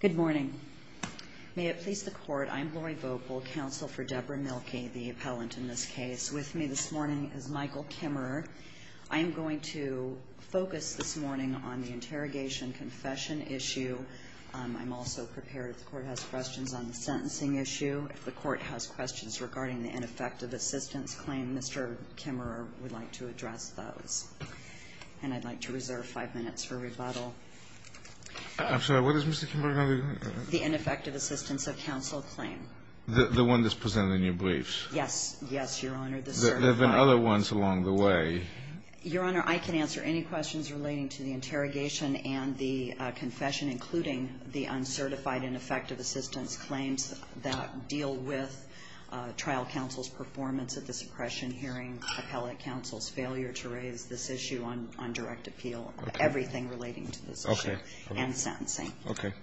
Good morning. May it please the Court, I'm Lori Vogel, Counsel for Debra Milke, the appellant in this case. With me this morning is Michael Kimmerer. I'm going to focus this morning on the interrogation-confession issue. I'm also prepared, the Court has questions on the sentencing issue. If the Court has questions regarding the ineffective assistance claim, Mr. Kimmerer would like to address those. And I'd like to reserve five minutes for rebuttal. I'm sorry, what is Mr. Kimmerer going to do? The ineffective assistance of counsel claim. The one that's presented in your briefs? Yes, yes, Your Honor. There have been other ones along the way. Your Honor, I can answer any questions relating to the interrogation and the confession, including the uncertified ineffective assistance claims that deal with trial counsel's performance at the suppression hearing, and appellate counsel's failure to raise this issue on direct appeal, everything relating to this issue, and sentencing. Okay.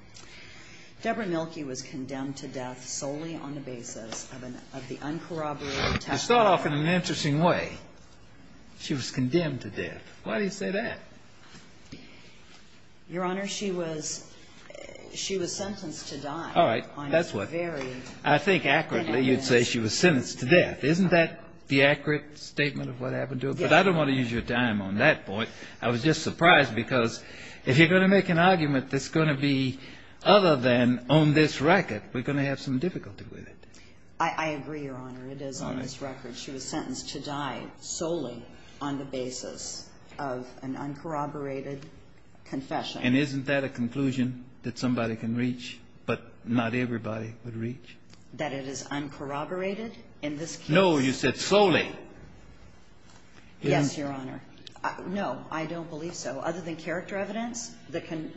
Debra Milke was condemned to death solely on the basis of the uncorroborated testimony. It's thought of in an interesting way. She was condemned to death. Why do you say that? Your Honor, she was sentenced to die. I think accurately you'd say she was sentenced to death. Isn't that the accurate statement of what happened to her? But I don't want to use your time on that point. I was just surprised because if you're going to make an argument that's going to be other than on this record, we're going to have some difficulty with it. I agree, Your Honor. It is on this record. She was sentenced to die solely on the basis of an uncorroborated confession. And isn't that a conclusion that somebody can reach, but not everybody can reach? That it is uncorroborated in this case? No, you said solely. Yes, Your Honor. No, I don't believe so. Other than character evidence that can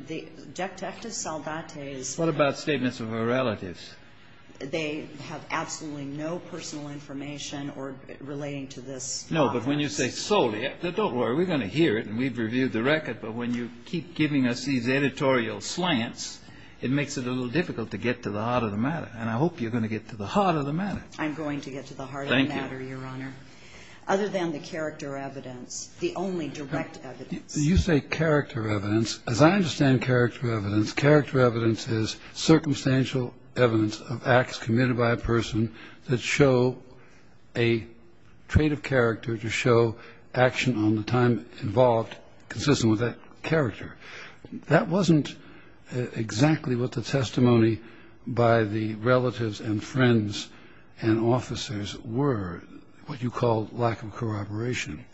– Justice Salvate is – What about statements of her relatives? They have absolutely no personal information relating to this. No, but when you say solely, we're going to hear it and we've reviewed the record. But when you keep giving us these editorial slants, it makes it a little difficult to get to the heart of the matter. And I hope you're going to get to the heart of the matter. I'm going to get to the heart of the matter, Your Honor, other than the character evidence, the only direct evidence. You say character evidence. As I understand character evidence, character evidence is circumstantial evidence of acts committed by a person that show a trait of character to show action on the time involved consistent with that character. That wasn't exactly what the testimony by the relatives and friends and officers were, what you call lack of corroboration.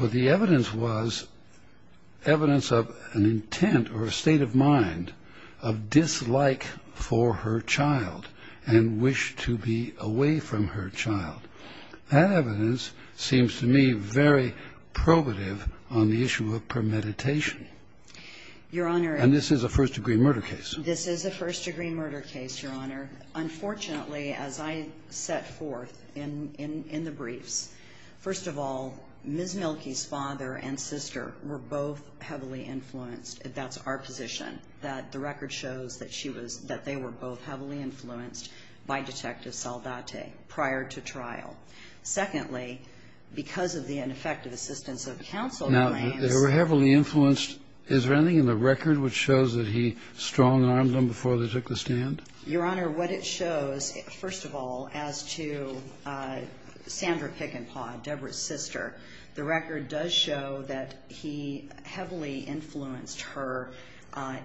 But the evidence was evidence of an intent or a state of mind of dislike for her child and wished to be away from her child. That evidence seems to me very probative on the issue of premeditation. Your Honor – And this is a first-degree murder case. This is a first-degree murder case, Your Honor. Unfortunately, as I set forth in the briefs, first of all, Ms. Mielke's father and sister were both heavily influenced. That's our position, that the record shows that they were both heavily influenced by Detective Salvate prior to trial. Secondly, because of the ineffective assistance of counsel – Now, they were heavily influenced. Is there anything in the record which shows that he strung an arm before they took the stand? Your Honor, what it shows, first of all, as to Sandra Pickenspaw, Deborah's sister, the record does show that he heavily influenced her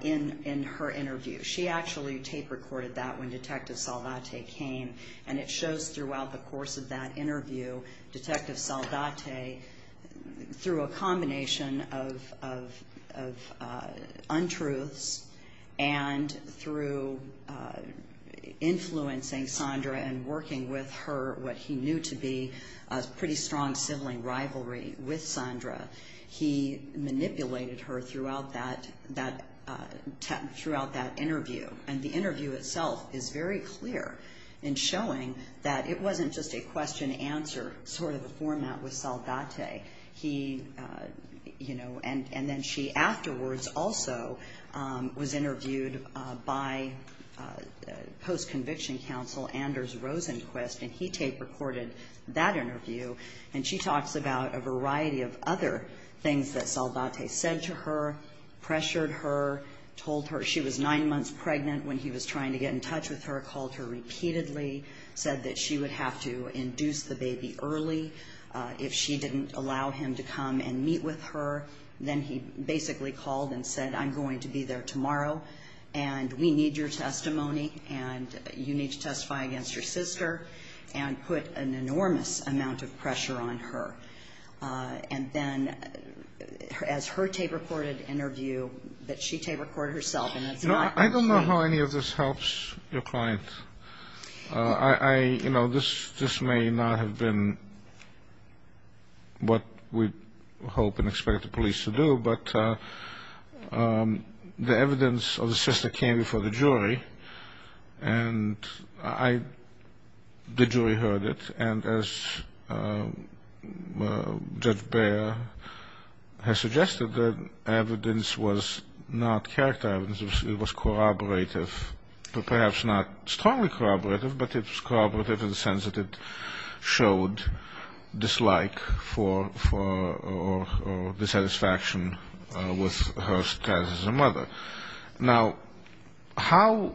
in her interview. She actually tape-recorded that when Detective Salvate came, and it shows throughout the course of that interview, Detective Salvate, through a combination of untruths and through influencing Sandra and working with her, what he knew to be a pretty strong sibling rivalry with Sandra, he manipulated her throughout that interview. And the interview itself is very clear in showing that it wasn't just a question-answer sort of format with Salvate. He – you know, and then she afterwards also was interviewed by post-conviction counsel Anders Rosenquist, and he tape-recorded that interview. And she talks about a variety of other things that Salvate said to her, pressured her, told her she was nine months pregnant when he was trying to get in touch with her, called her repeatedly, said that she would have to induce the baby early if she didn't allow him to come and meet with her. Then he basically called and said, I'm going to be there tomorrow, and we need your testimony, and you need to testify against your sister, and put an enormous amount of pressure on her. And then, as her tape-recorded interview, that she tape-recorded herself. I don't know how any of this helps your client. You know, this may not have been what we'd hope and expect the police to do, but the evidence of the sister came before the jury, and the jury heard it. And as Judge Baer has suggested, the evidence was not character evidence. It was corroborative, perhaps not strongly corroborative, but it's corroborative in the sense that it showed dislike for or dissatisfaction with her status as a mother. Now, how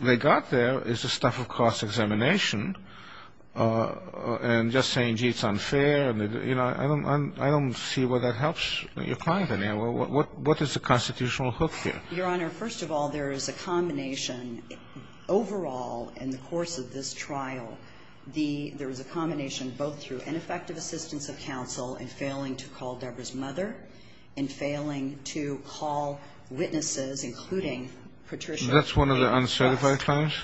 they got there is the stuff of cross-examination, and just saying, gee, it's unfair. You know, I don't see where that helps your client in any way. What is the constitutional hook here? Your Honor, first of all, there is a combination. Overall, in the course of this trial, there was a combination both through ineffective assistance of counsel in failing to call Deborah's mother, and failing to call witnesses, including Patricia. That's one of the uncertified claims?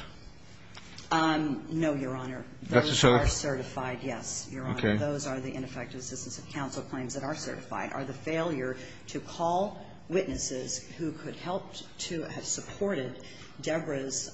No, Your Honor. Those are certified, yes. Your Honor, those are the ineffective assistance of counsel claims that are certified, are the failure to call witnesses who could help to have supported Deborah's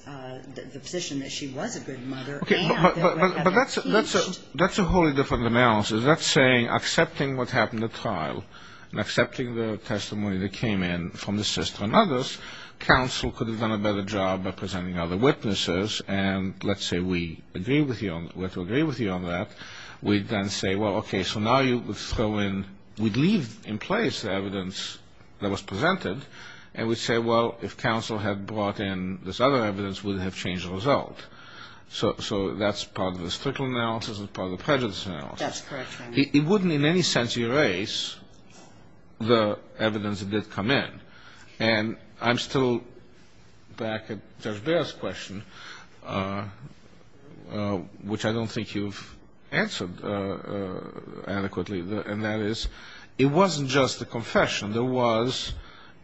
position that she was a good mother. But that's a wholly different analysis. Does that say, accepting what happened at trial, and accepting the testimony that came in from the sister and others, counsel could have done a better job by presenting other witnesses, and let's say we agree with you on that, we then say, well, okay, so now you would throw in, we'd leave in place the evidence that was presented, and we'd say, well, if counsel had brought in this other evidence, we would have changed the result. So that's part of the statistical analysis and part of the prejudice analysis. That's correct, Your Honor. It wouldn't in any sense erase the evidence that did come in. And I'm still back at Judge Baird's question, which I don't think you've answered adequately, and that is, it wasn't just the confession, there was,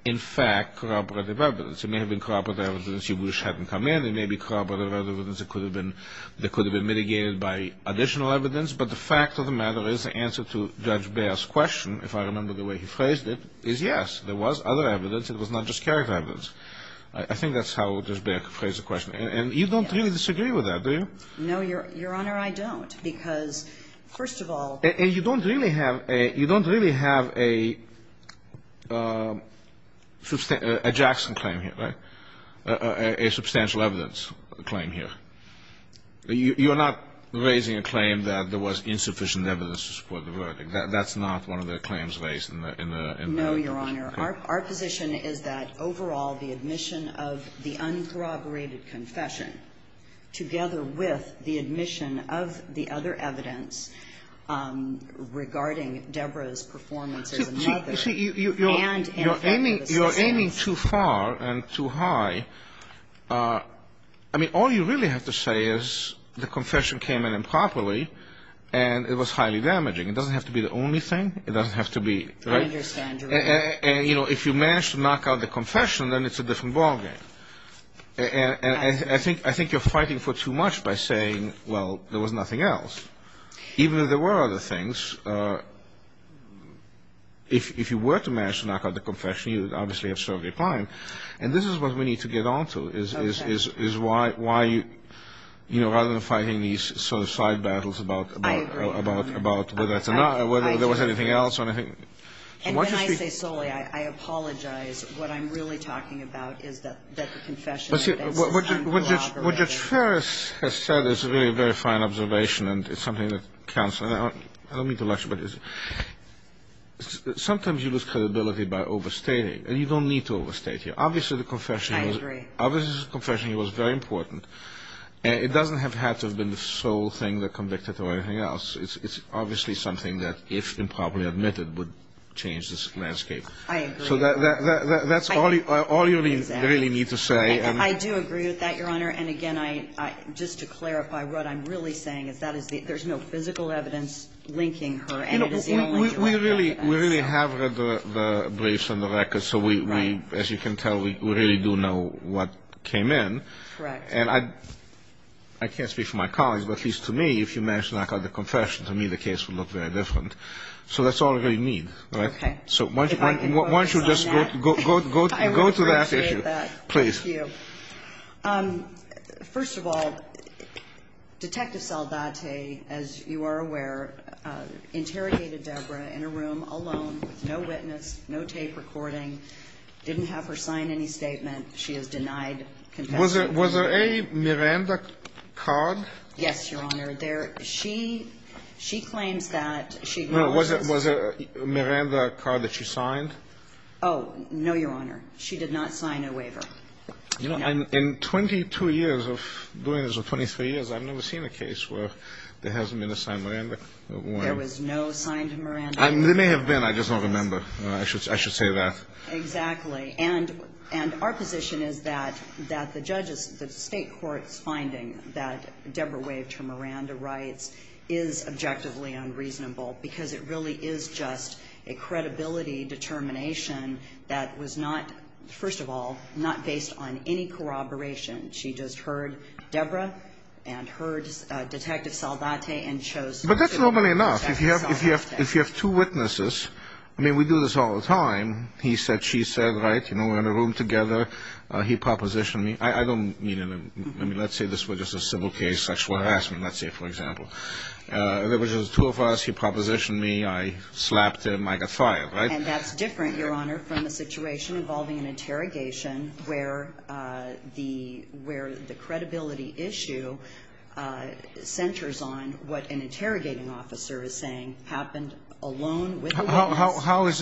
in fact, corroborative evidence. It may have been corroborative evidence you wish hadn't come in. It may be corroborative evidence that could have been mitigated by additional evidence. But the fact of the matter is the answer to Judge Baird's question, if I remember the way he phrased it, is yes. There was other evidence. It was not just character evidence. I think that's how Judge Baird phrased the question. And you don't really disagree with that, do you? No, Your Honor, I don't. And you don't really have a Jackson claim here, right? A substantial evidence claim here. You're not raising a claim that there was insufficient evidence to support the verdict. That's not one of the claims raised in the application. No, Your Honor. Our position is that, overall, the admission of the uncorroborated confession, together with the admission of the other evidence regarding Deborah's performance as a mother and her family. You're aiming too far and too high. I mean, all you really have to say is the confession came in improperly and it was highly damaging. It doesn't have to be the only thing. It doesn't have to be, right? I understand, Your Honor. And, you know, if you manage to knock out the confession, then it's a different ballgame. And I think you're fighting for too much by saying, well, there was nothing else. Even if there were other things, if you were to manage to knock out the confession, you would obviously have served a crime. And this is what we need to get onto, is why, you know, rather than fighting these sort of side battles about whether or not, whether there was anything else. And can I say solely, I apologize, what I'm really talking about is that the confession is uncorroborated. What Judge Ferris has said is a very, very fine observation, and it's something that counts. I don't mean to lecture, but sometimes you lose credibility by overstating. And you don't need to overstate here. Obviously, the confession was very important. It doesn't have to have been the sole thing that convicted or anything else. It's obviously something that, if improperly admitted, would change this landscape. I agree. So that's all you really need to say. I do agree with that, Your Honor. And, again, just to clarify what I'm really saying is that there's no physical evidence linking her. We really have read the briefs and the records, so we, as you can tell, we really do know what came in. Correct. And I can't speak for my colleagues, but at least to me, if you manage to knock out the confession, to me the case would look very different. So that's all you really need. Okay. So why don't you just go to that issue. Thank you. First of all, Detective Saldate, as you are aware, interrogated Deborah in a room alone, no witness, no tape recording. Didn't have her sign any statements. She was denied confession. Was there a Miranda card? Yes, Your Honor. She claims that she was. Was there a Miranda card that she signed? Oh, no, Your Honor. She did not sign a waiver. In 22 years or 23 years, I've never seen a case where there hasn't been a signed Miranda card. There was no signed Miranda card. There may have been. I just don't remember. I should say that. Exactly. And our position is that the judges, the state court's finding that Deborah waived her Miranda rights is objectively unreasonable because it really is just a credibility determination that was not, first of all, not based on any corroboration. She just heard Deborah and heard Detective Saldate and chose to do it. But that's normally enough. If you have two witnesses, I mean, we do this all the time. He said, she said, right, you know, we're in a room together. He propositioned me. I don't mean it. I mean, let's say this were just a civil case, sexual harassment, let's say, for example. There was two of us. He propositioned me. I slapped him. I got fired, right? And that's different, Your Honor, from a situation involving an interrogation where the credibility issue centers on what an interrogating officer is saying happened alone with the woman. How is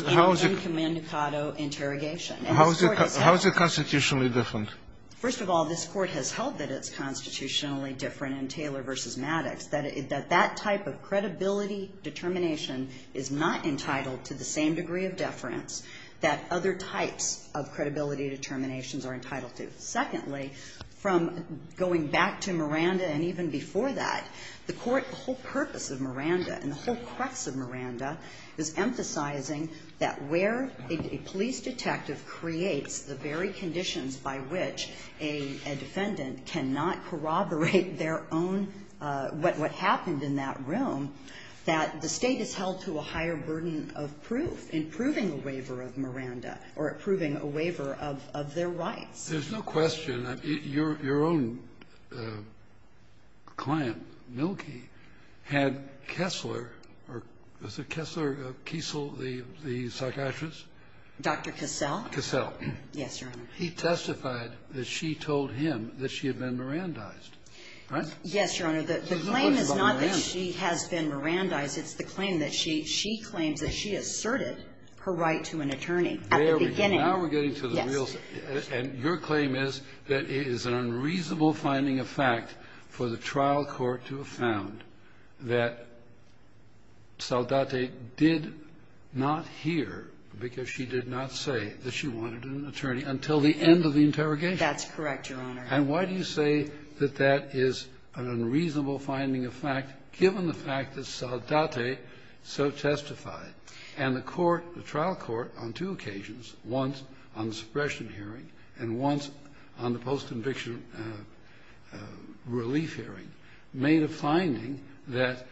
it constitutionally different? First of all, this court has held that it's constitutionally different in Taylor v. Maddox, that that type of credibility determination is not entitled to the same degree of deference that other types of credibility determinations are entitled to. Secondly, from going back to Miranda and even before that, the court, the whole purpose of Miranda and the whole crux of Miranda is emphasizing that where a police detective creates the very conditions by which a defendant cannot corroborate their own, what happened in that room, that the state is held to a higher burden of proof in proving a waiver of Miranda or proving a waiver of their right. There's no question. Your own client, Noki, had Kessler or was it Kessler, Kiesel, the psychiatrist? Dr. Cassell. Cassell. Yes, Your Honor. He testified that she told him that she had been Mirandized, right? Yes, Your Honor. The claim is not that she has been Mirandized. It's the claim that she claimed that she asserted her right to an attorney at the beginning. And your claim is that it is an unreasonable finding of fact for the trial court to have found that Saldate did not hear because she did not say that she wanted an attorney until the end of the interrogation. That's correct, Your Honor. And why do you say that that is an unreasonable finding of fact given the fact that Saldate so testified? And the trial court on two occasions, once on the suppression hearing and once on the post-conviction relief hearing, made a finding that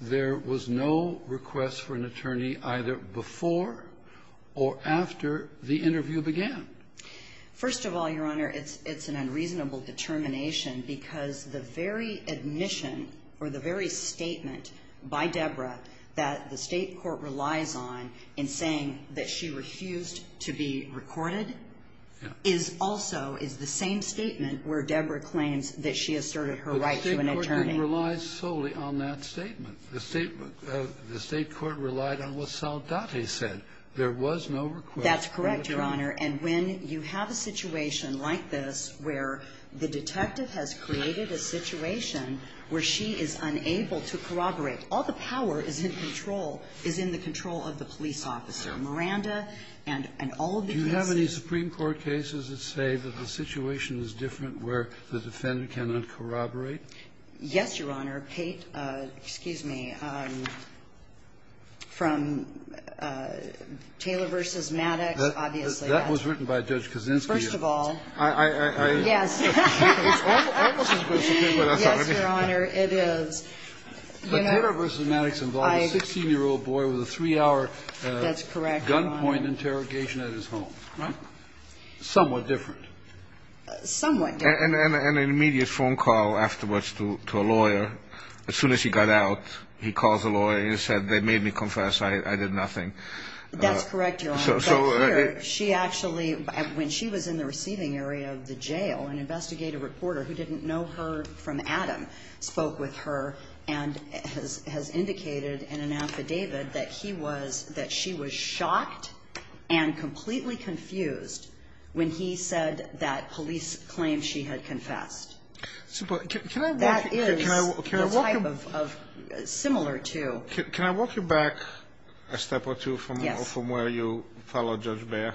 there was no request for an attorney either before or after the interview began. First of all, Your Honor, it's an unreasonable determination because the very admission or the very statement by Debra that the state court relies on in saying that she refused to be recorded is also the same statement where Debra claims that she asserted her right to an attorney. But the state court didn't rely solely on that statement. The state court relied on what Saldate said. There was no request for an attorney. That's correct, Your Honor. And when you have a situation like this where the detective has created a situation where she is unable to corroborate because all the power is in control, is in the control of the police officer, Miranda and all of these people. Do you have any Supreme Court cases that say that the situation is different where the defendant cannot corroborate? Yes, Your Honor. Kate, excuse me, from Taylor v. Maddox, obviously. That was written by Judge Kaczynski. First of all. I, I, I, I. Yes. It's almost as good as you, but I'm sorry. Yes, Your Honor, it is. But Taylor v. Maddox involved a 16-year-old boy with a three-hour gunpoint interrogation at his home. Right. Somewhat different. Somewhat different. And an immediate phone call afterwards to a lawyer. As soon as he got out, he called the lawyer and said, they made me confess. I did nothing. That's correct, Your Honor. She actually, when she was in the receiving area of the jail, an investigative reporter who didn't know her from Adam, spoke with her and has, has indicated and announced to David that he was, that she was shocked and completely confused when he said that police claimed she had confessed. Can I walk you back a step or two from where you. Follow Judge Beyer?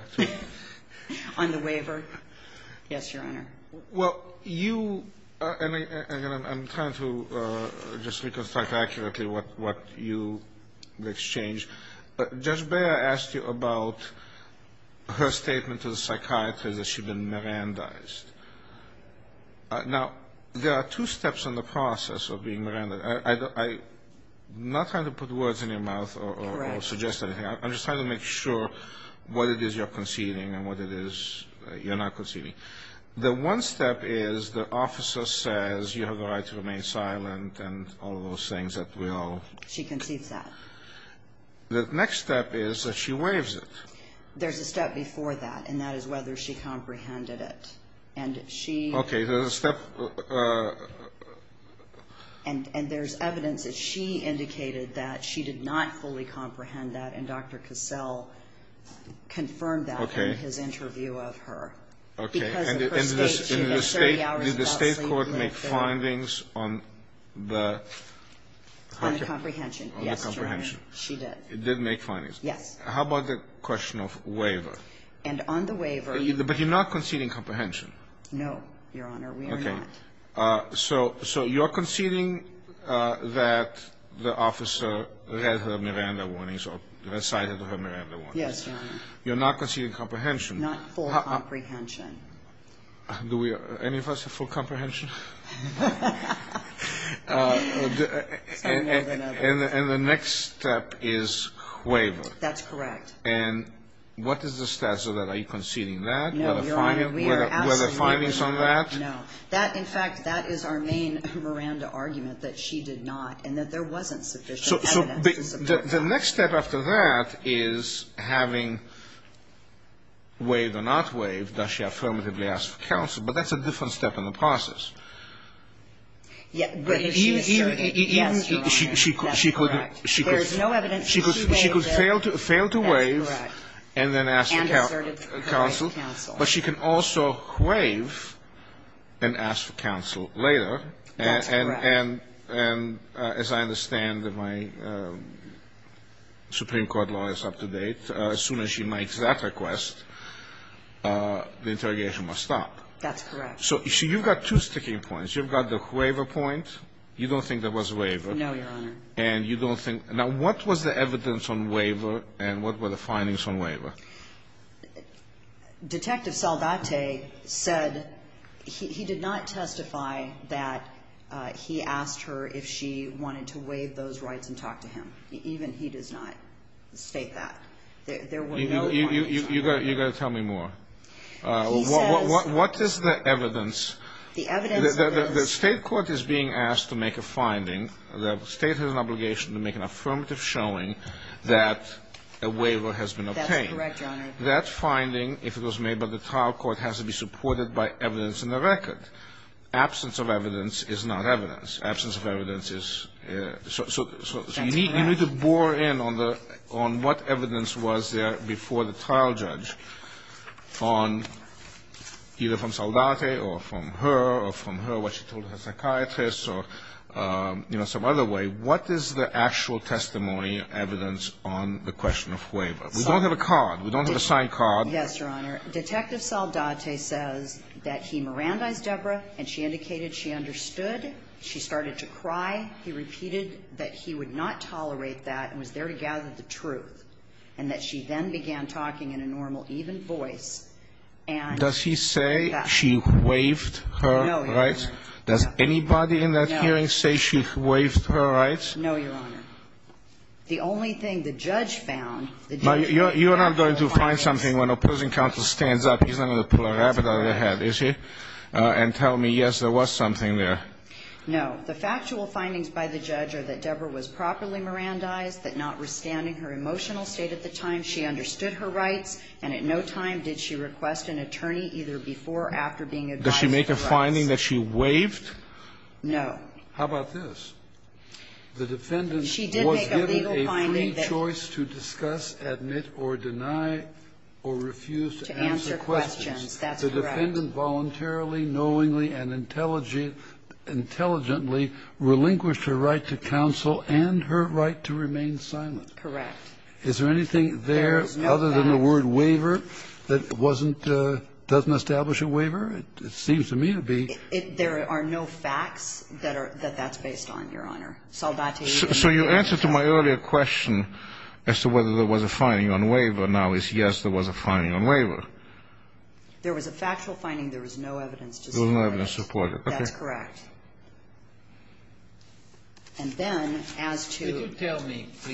On the waiver? Yes, Your Honor. Well, you, and I'm trying to just reconstruct accurately what, what you exchanged. But Judge Beyer asked you about her statement to the psychiatrist that she'd been Mirandized. Now, there are two steps in the process of being Mirandized. I, I, I'm not trying to put words in your mouth or, or suggest anything. I'm just trying to make sure what it is you're conceding and what it is you're not conceding. The one step is the officer says you have the right to remain silent and all of those things that we all. She concedes that. The next step is that she waives it. There's a step before that, and that is whether she comprehended it. And she. Okay, there's a step. And, and there's evidence that she indicated that she did not fully comprehend that. And Dr. Cassell confirmed that. Okay. In his interview of her. Okay. Did the state court make findings on the. On the comprehension. On the comprehension. Yes, Your Honor, she did. It did make findings. Yes. How about the question of waiver? And on the waiver. But you're not conceding comprehension. No, Your Honor. No, Your Honor, we are not. Okay. So, so you're conceding that the officer read her Miranda warnings or cited her Miranda warnings. Yes, Your Honor. You're not conceding comprehension. Not full comprehension. Do we, any of us have full comprehension? And the next step is waiver. That's correct. And what is the status of that? Are you conceding that? No, Your Honor. Were there findings on that? No. That, in fact, that is our main Miranda argument. That she did not. And that there wasn't sufficient evidence. So, so the next step after that is having waive or not waive. Does she affirmatively ask counsel? But that's a different step in the process. Yeah, but if she. She could. She could. That's correct. If there's no evidence. She could. She could fail to waive. That's correct. And then ask counsel. And assertive counsel. But she can also crave and ask counsel later. And, and, and, as I understand that my Supreme Court law is up to date, as soon as she makes that request, the interrogation must stop. That's correct. So, you see, you've got two sticking points. You've got the waiver point. You don't think there was waiver. No, Your Honor. And you don't think. Now, what was the evidence on waiver and what were the findings on waiver? Detective Saldate said he did not testify that he asked her if she wanted to waive those rights and talk to him. Even he did not state that. You've got to tell me more. What is the evidence? The evidence. The state court is being asked to make a finding. The state has an obligation to make an affirmative showing that a waiver has been obtained. That's correct, Your Honor. That finding, if it was made by the trial court, has to be supported by evidence in the record. Absence of evidence is not evidence. Absence of evidence is. So, you need to bore in on what evidence was there before the trial judge on either from Saldate or from her or from her, what she told her psychiatrist or, you know, some other way. What is the actual testimony evidence on the question of waiver? We don't have a card. We don't have a signed card. Yes, Your Honor. Detective Saldate says that he Mirandized Deborah and she indicated she understood. She started to cry. He repeated that he would not tolerate that and was there to gather the truth and that she then began talking in a normal, even voice. Does she say she waived her rights? No, Your Honor. Does anybody in that hearing say she waived her rights? No, Your Honor. The only thing the judge found... But you're not going to find something when opposing counsel stands up, he's not going to pull a rabbit out of their head, is he, and tell me, yes, there was something there. No. The factual findings by the judge are that Deborah was properly Mirandized but notwithstanding her emotional state at the time, she understood her rights and at no time did she request an attorney either before or after being advised... Does she make a finding that she waived? No. How about this? The defendant was given a free choice to discuss, admit, or deny or refuse to answer questions. To answer questions, that's correct. The defendant voluntarily, knowingly, and intelligently relinquished her right to counsel and her right to remain silent. Correct. Is there anything there other than the word waiver that doesn't establish a waiver? It seems to me to be. There are no facts that that's based on, Your Honor. So you answer to my earlier question as to whether there was a finding on waiver now is yes, there was a finding on waiver. There was a factual finding, there was no evidence to support it. There was no evidence to support it. That's correct. And then, as to... You don't have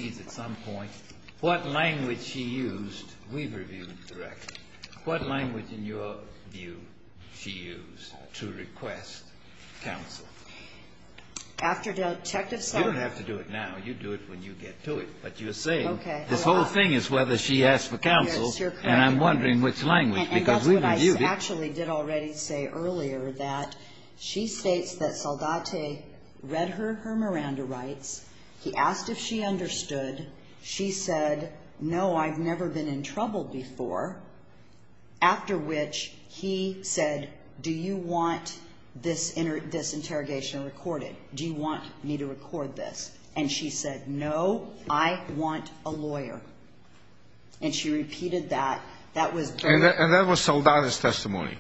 to do it now. You do it when you get to it. But you're saying the whole thing is whether she asked for counsel and I'm wondering which language because we reviewed it. And I actually did already say earlier that she states that Saldate read her her Miranda rights, he asked if she understood, she said, no, I've never been in trouble before, after which he said, do you want this interrogation recorded? Do you want me to record this? And she said, no, I want a lawyer. And she repeated that. And that was Saldate's testimony.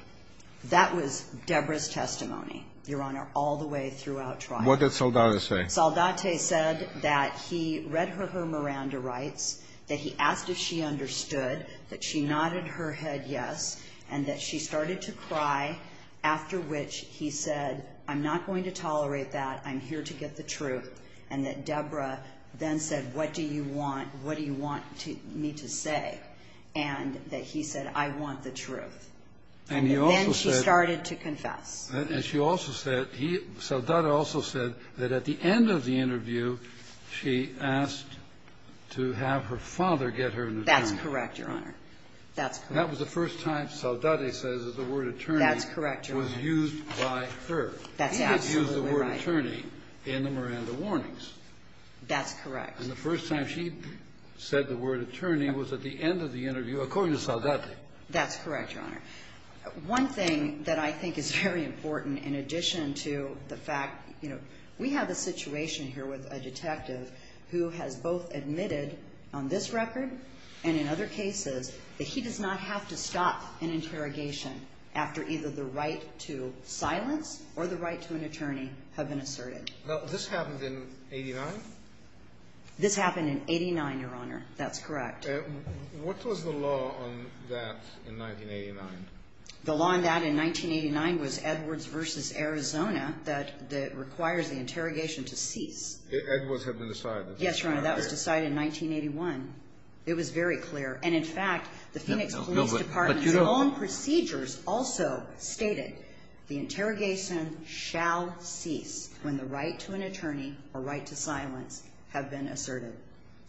That was Deborah's testimony, Your Honor, all the way throughout trial. What did Saldate say? Saldate said that he read her her Miranda rights, that he asked if she understood, that she nodded her head yes, and that she started to cry, after which he said, I'm not going to tolerate that. I'm here to get the truth. And that Deborah then said, what do you want? What do you want me to say? And that he said, I want the truth. And then she started to confess. And she also said, Saldate also said that at the end of the interview, she asked to have her father get her an attorney. That's correct, Your Honor. That was the first time Saldate says that the word attorney was used by her. He had used the word attorney in the Miranda warnings. That's correct. And the first time she said the word attorney was at the end of the interview, according to Saldate. That's correct, Your Honor. One thing that I think is very important in addition to the fact, you know, we have a situation here with a detective who has both admitted on this record and in other cases that she does not have to stop an interrogation after either the right to silence or the right to an attorney have been asserted. Now, this happened in 89? This happened in 89, Your Honor. That's correct. What was the law on that in 1989? The law on that in 1989 was Edwards v. Arizona that requires the interrogation to cease. Edwards had been decided. Yes, Your Honor. That was decided in 1981. It was very clear. And, in fact, the Senate Police Department's own procedures also stated the interrogation shall cease when the right to an attorney or right to silence have been asserted.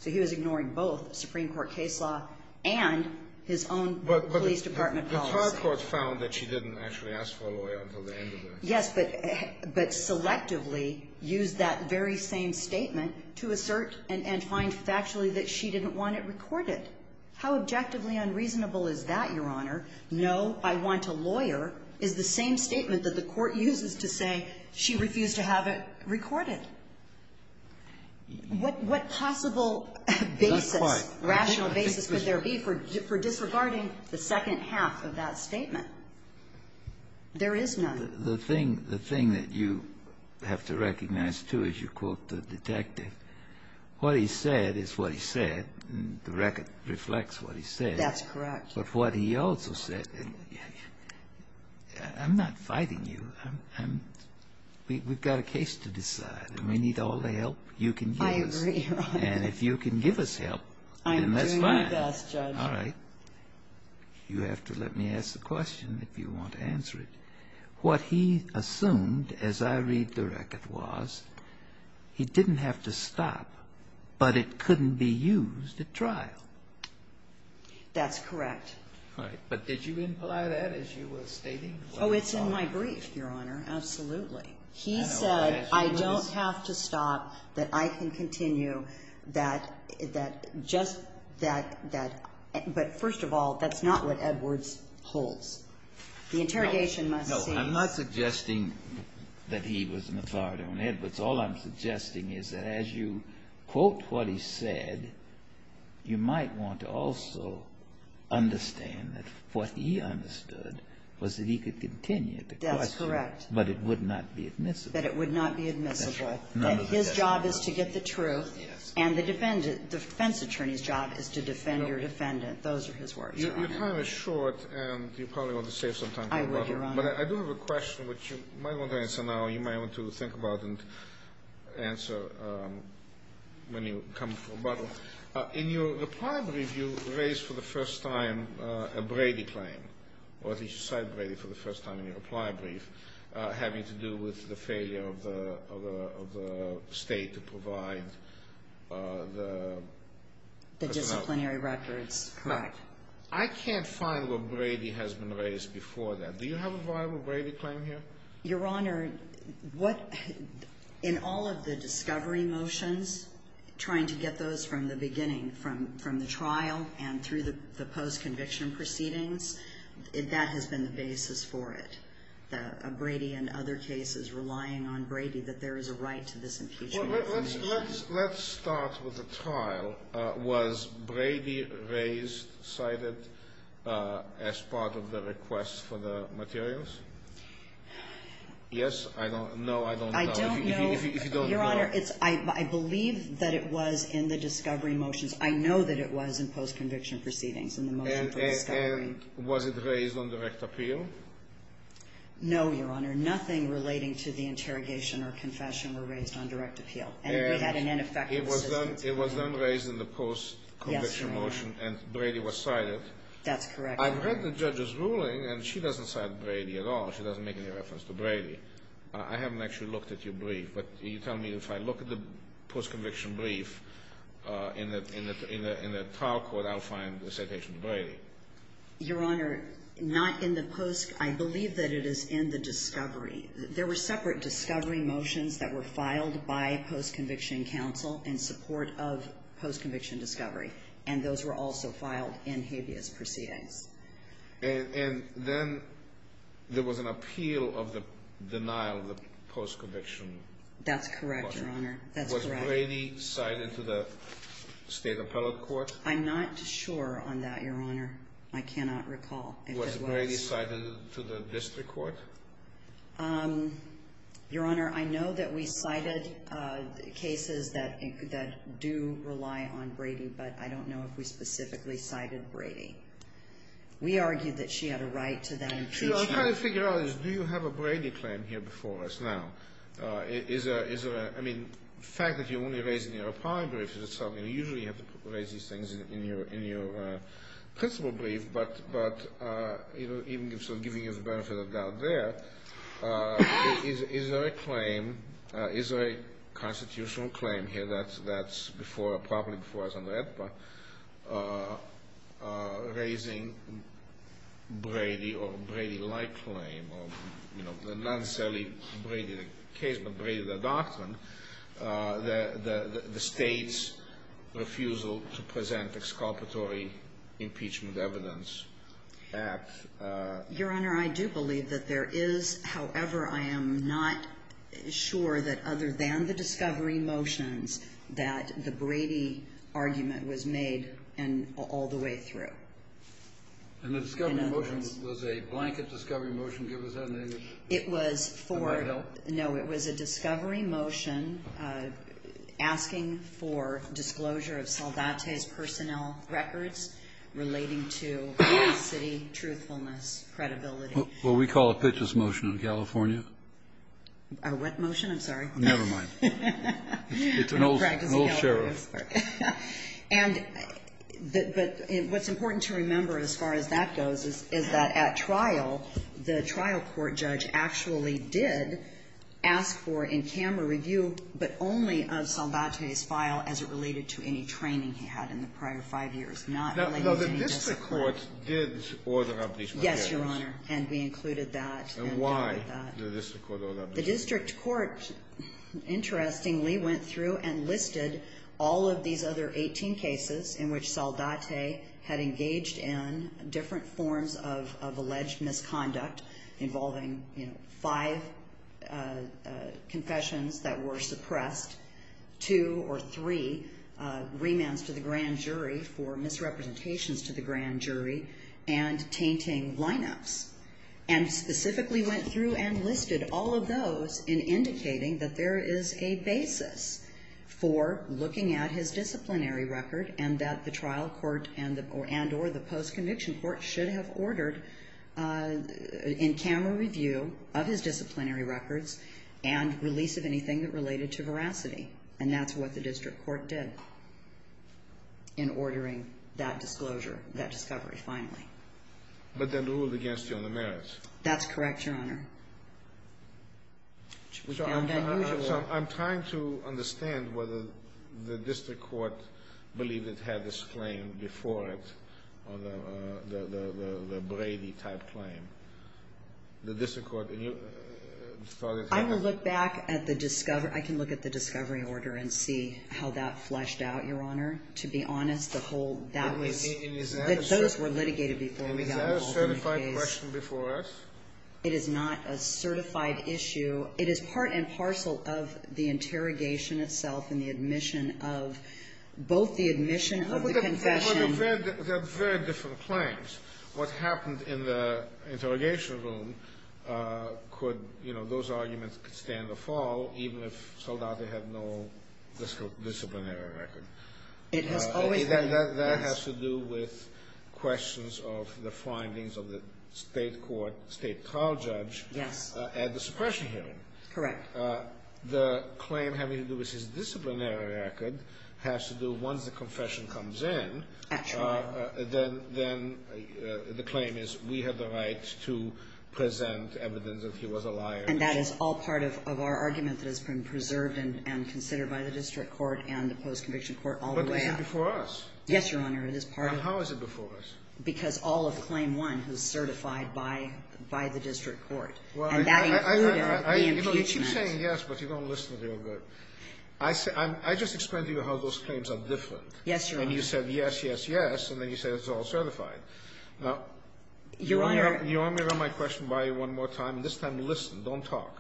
So he was ignoring both the Supreme Court case law and his own police department policy. But the trial court found that she didn't actually ask for a lawyer until the end of the interview. Yes, but selectively used that very same statement to assert and find factually that she didn't want it recorded. How objectively unreasonable is that, Your Honor? No, I want a lawyer is the same statement that the court uses to say she refused to have it recorded. What possible rational basis could there be for disregarding the second half of that statement? There is none. The thing that you have to recognize, too, as you quote the detective, what he said is what he said, and the record reflects what he said. That's correct. But what he also said, I'm not fighting you. We've got a case to decide, and we need all the help you can give us. I agree. And if you can give us help, then that's fine. I agree with that, Judge. All right. You have to let me ask the question if you want to answer it. What he assumed, as I read the record, was he didn't have to stop, but it couldn't be used at trial. That's correct. All right. But did you imply that, as you were stating? Oh, it's in my brief, Your Honor. Absolutely. He said I don't have to stop, that I can continue, that just that, but first of all, that's not what Edwards holds. The interrogation must be… No, I'm not suggesting that he was an authority on Edwards. All I'm suggesting is that as you quote what he said, you might want to also understand that what he understood was that he could continue the question, but it would not be admissible. That it would not be admissible. None of that. His job is to get the truth, and the defense attorney's job is to defend your defendant. Those are his words, Your Honor. Your time is short, and you probably want to save some time for rebuttal. I will, Your Honor. But I do have a question, which you might want to answer now, you might want to think about and answer when you come for rebuttal. In your reply brief, you raised for the first time a Brady claim, or at least you said Brady for the first time in your reply brief, having to do with the failure of the state to provide the… The disciplinary records, correct. I can't find where Brady has been raised before that. Do you have a viable Brady claim here? Your Honor, what… In all of the discovery motions, trying to get those from the beginning, from the trial and through the post-conviction proceedings, that has been the basis for it. Brady and other cases relying on Brady that there is a right to this impeachment. Let's start with the trial. Was Brady raised, cited as part of the request for the materials? Yes, I don't know, I don't know. I don't know, Your Honor. I believe that it was in the discovery motions. I know that it was in post-conviction proceedings. And was it raised on direct appeal? No, Your Honor. Nothing relating to the interrogation or confession was raised on direct appeal. It was then raised in the post-conviction motion, and Brady was cited. That's correct, Your Honor. I've read the judge's ruling, and she doesn't cite Brady at all. She doesn't make any reference to Brady. I haven't actually looked at your brief, but you tell me if I look at the post-conviction brief in the trial court, I'll find the citation of Brady. Your Honor, not in the post-conviction. I believe that it is in the discovery. There were separate discovery motions that were filed by post-conviction counsel in support of post-conviction discovery, and those were also filed in habeas proceeding. And then there was an appeal of the denial of the post-conviction. That's correct, Your Honor. Was Brady cited to the state appellate court? I'm not sure on that, Your Honor. I cannot recall exactly. Was Brady cited to the district court? Your Honor, I know that we cited cases that do rely on Brady, but I don't know if we specifically cited Brady. We argued that she had a right to that impeachment. What I'm trying to figure out is do you have a Brady claim here before us now? I mean, the fact that you only raised it in your appellate brief is something you usually have to raise these things in your principle brief. But even giving you the benefit of the doubt there, is there a constitutional claim here that's properly before us on that? Raising Brady or Brady-like claim, not necessarily Brady the case, but Brady the doctrine, the state's refusal to present exculpatory impeachment evidence. Your Honor, I do believe that there is. However, I am not sure that other than the discovery motions that the Brady argument was made all the way through. And the discovery motion was a blanket discovery motion? No, it was a discovery motion asking for disclosure of Salvate's personnel records relating to city truthfulness, credibility. Well, we call it Pitch's motion in California. What motion? I'm sorry. Never mind. It's an old sheriff. And what's important to remember as far as that goes is that at trial, the trial court judge actually did ask for in camera review, but only of Salvate's file as it related to any training he had in the prior five years. No, the district court did order an application. Yes, Your Honor, and we included that. The district court, interestingly, went through and listed all of these other 18 cases in which Salvate had engaged in different forms of alleged misconduct involving five confessions that were suppressed, two or three remands to the grand jury for misrepresentations to the grand jury, and tainting lineups. And specifically went through and listed all of those in indicating that there is a basis for looking at his disciplinary record and that the trial court and or the post-conviction court should have ordered in camera review of his disciplinary records and release of anything that related to veracity. And that's what the district court did in ordering that disclosure, that discovery, finally. But they ruled against you on the merits. That's correct, Your Honor. So I'm trying to understand whether the district court believed it had this claim before it, the Brady-type claim. I can look back at the discovery order and see how that fleshed out, Your Honor. To be honest, the whole – that those were litigated before. Is that a certified question before us? It is not a certified issue. It is part and parcel of the interrogation itself and the admission of both the admission of the confession – They're very different claims. What happened in the interrogation room could – those arguments could stay in the fall even if it turned out they had no disciplinary record. That has to do with questions of the findings of the state court, state trial judge at the suppression hearing. Correct. The claim having to do with his disciplinary record has to do once the confession comes in. Then the claim is we have the right to present evidence that he was a liar. And that is all part of our argument that has been preserved and considered by the district court and the post-conviction court all the way up. But it came before us. Yes, Your Honor. How is it before us? Because all of claim one was certified by the district court. And that included the impeachment. You keep saying yes, but you don't listen to me. I just explained to you how those claims are different. Yes, Your Honor. And you said yes, yes, yes. And then you said it's all certified. Now, you want me to run my question by you one more time? This time listen. Don't talk.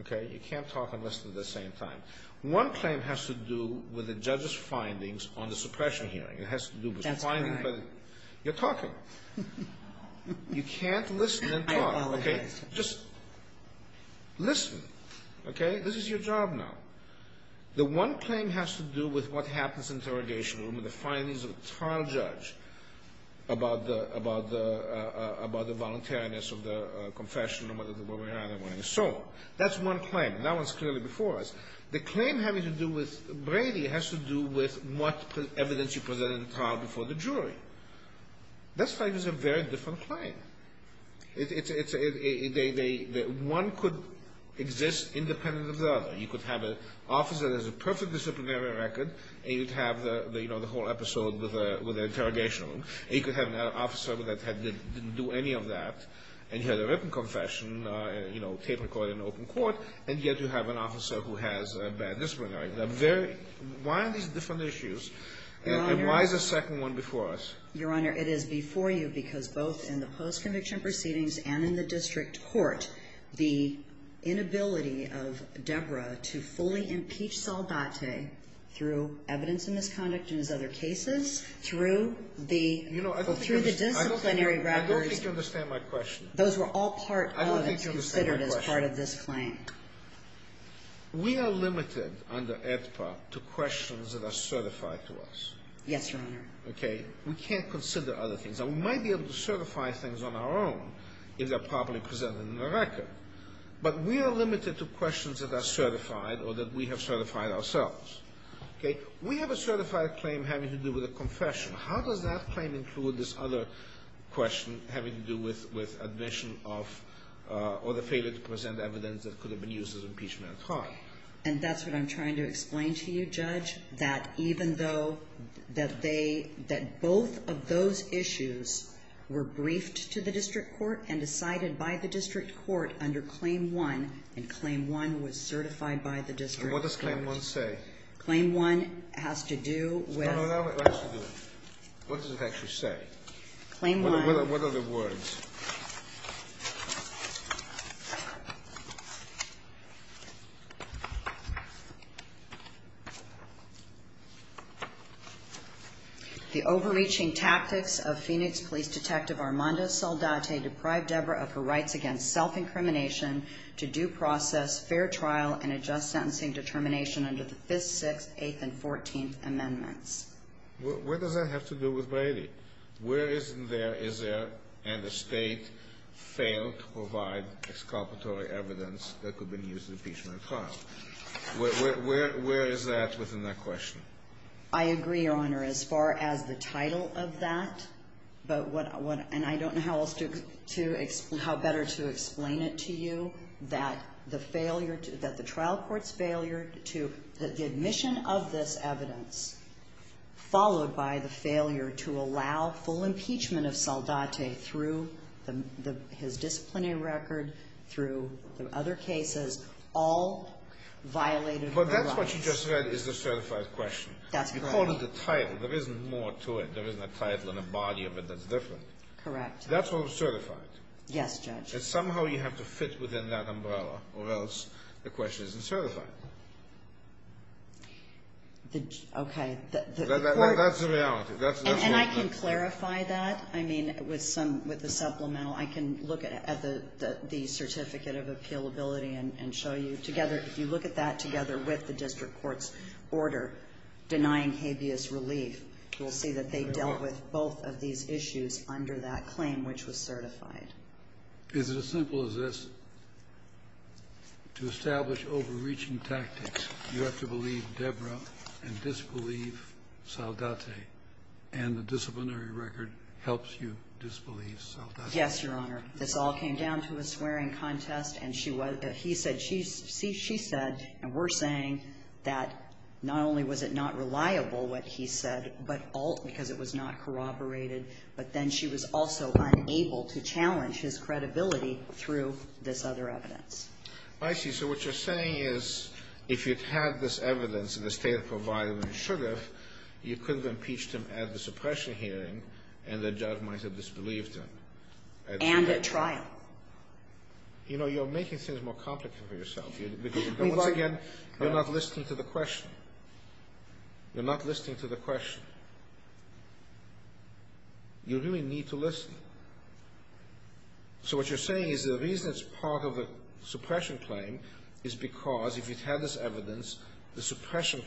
Okay? You can't talk and listen at the same time. One claim has to do with the judge's findings on the suppression hearing. It has to do with the findings. That's right. You're talking. You can't listen and talk. Okay? Just listen. Okay? This is your job now. The one claim has to do with what happens in the interrogation room and the findings of the trial judge about the voluntariness of the confession. That's one claim. That one's clearly before us. The claim having to do with Brady has to do with what evidence he presented in the trial before the jury. This claim is a very different claim. One could exist independent of the other. You could have an officer that has a perfect disciplinary record and you'd have the whole episode with the interrogation room. You could have an officer that didn't do any of that and he has a written confession, you know, capable of an open court, and yet you have an officer who has a bad disciplinary record. Why are these different issues? And why is the second one before us? Your Honor, it is before you because both in the post-conviction proceedings and in the district court, the inability of Deborah to fully impeach Saldate through evidence of misconduct in his other cases, through the disciplinary record. I don't think you understand my question. Those were all considered as part of this claim. I don't think you understand my question. We are limited under APFA to questions that are certified to us. Yes, Your Honor. Okay? We can't consider other things. We might be able to certify things on our own if they're properly presented in the record. But we are limited to questions that are certified or that we have certified ourselves. Okay? We have a certified claim having to do with a confession. How does that claim include this other question having to do with admission of or the failure to present evidence that could have been used as impeachment at heart? And that's what I'm trying to explain to you, Judge, that even though both of those issues were briefed to the district court and decided by the district court under Claim 1, and Claim 1 was certified by the district court. What does Claim 1 say? Claim 1 has to do with No, no, no. What does it actually say? Claim 1 What are the words? The overreaching tactics of Phoenix Police Detective Armando Saldate deprived Deborah of her rights against self-incrimination to due process, fair trial, and adjust sentencing determination under the 5th, 6th, 8th, and 14th Amendments. Where does that have to do with Brady? Where is there, is there, and the state failed to provide exculpatory evidence that could be used as impeachment at heart? Where is that within that question? I agree, Your Honor, as far as the title of that, and I don't know how better to explain it to you, that the trial court's failure to, the admission of this evidence followed by the failure to allow full impeachment of Saldate through his disciplinary record, through other cases, all violated the law. But that's what you just said is a certified question. That's right. You called it a title. There isn't more to it. There isn't a title and a body of it that's different. Correct. That's what was certified. Yes, Judge. That somehow you have to fit within that umbrella, or else the question isn't certified. Okay. That's the reality. And I can clarify that. I mean, with the supplemental, I can look at the certificate of appealability and show you together. If you look at that together with the district court's order denying habeas relief, you will see that they dealt with both of these issues under that claim, which was certified. Is it as simple as this? To establish overreaching tactics, you have to believe Deborah and disbelieve Saldate, and the disciplinary record helps you disbelieve Saldate. Yes, Your Honor. This all came down to a swearing contest, and she said, and we're saying, that not only was it not reliable what he said, because it was not corroborated, but then she was also unable to challenge his credibility through this other evidence. I see. So what you're saying is, if you had this evidence in the state it provided, and you should have, you couldn't have impeached him at the suppression hearing, and the judge might have disbelieved him. And at trial. You know, you're making things more complicated for yourself. Because, once again, you're not listening to the question. You're not listening to the question. You really need to listen. So what you're saying is, the reason it's part of the suppression claim is because if you had this evidence, the suppression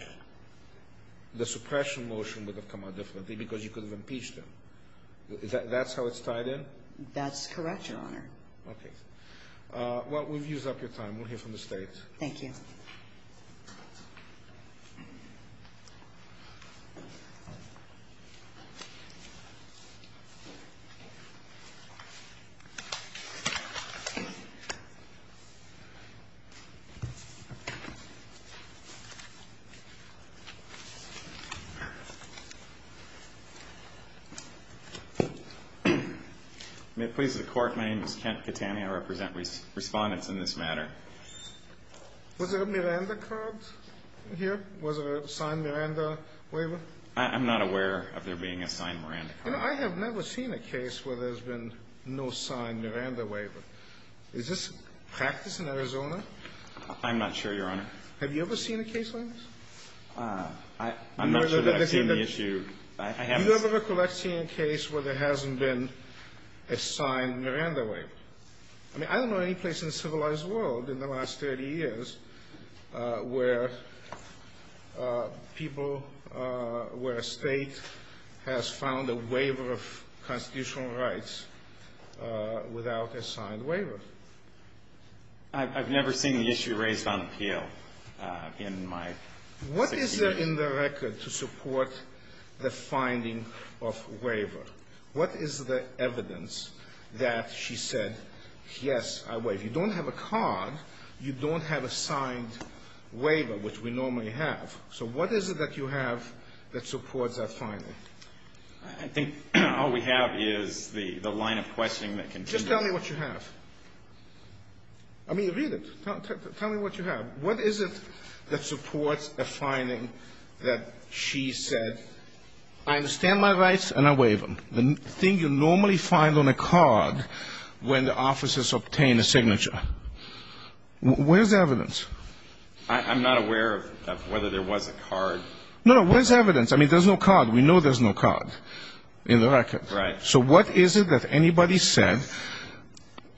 motion would have come out differently because you could have impeached him. That's how it's tied in? That's correct, Your Honor. Okay. Well, we'll use up your time. We'll hear from the states. Thank you. May it please the Court, my name is Kent Catania. I represent respondents in this matter. Was there a Miranda card here? Was there a signed Miranda waiver? I'm not aware of there being a signed Miranda card. I have never seen a case where there's been no signed Miranda waiver. Is this practiced in Arizona? I'm not sure, Your Honor. Have you ever seen a case like this? I'm not sure that's been the issue. Have you ever recollected seeing a case where there hasn't been a signed Miranda waiver? I mean, I don't know any place in the civilized world in the last 30 years where people, where a state has filed a waiver of constitutional rights without a signed waiver. I've never seen the issue raised on appeal in my experience. What is there in the record to support the finding of a waiver? What is the evidence that she said, yes, if you don't have a card, you don't have a signed waiver, which we normally have. So what is it that you have that supports that finding? I think all we have is the line of questioning that continues. Just tell me what you have. I mean, read it. Tell me what you have. What is it that supports a finding that she said, I understand my rights and I waive them? The thing you normally find on a card when the officers obtain a signature. Where's the evidence? I'm not aware of whether there was a card. No, where's the evidence? I mean, there's no card. We know there's no card in the record. Right. So what is it that anybody said,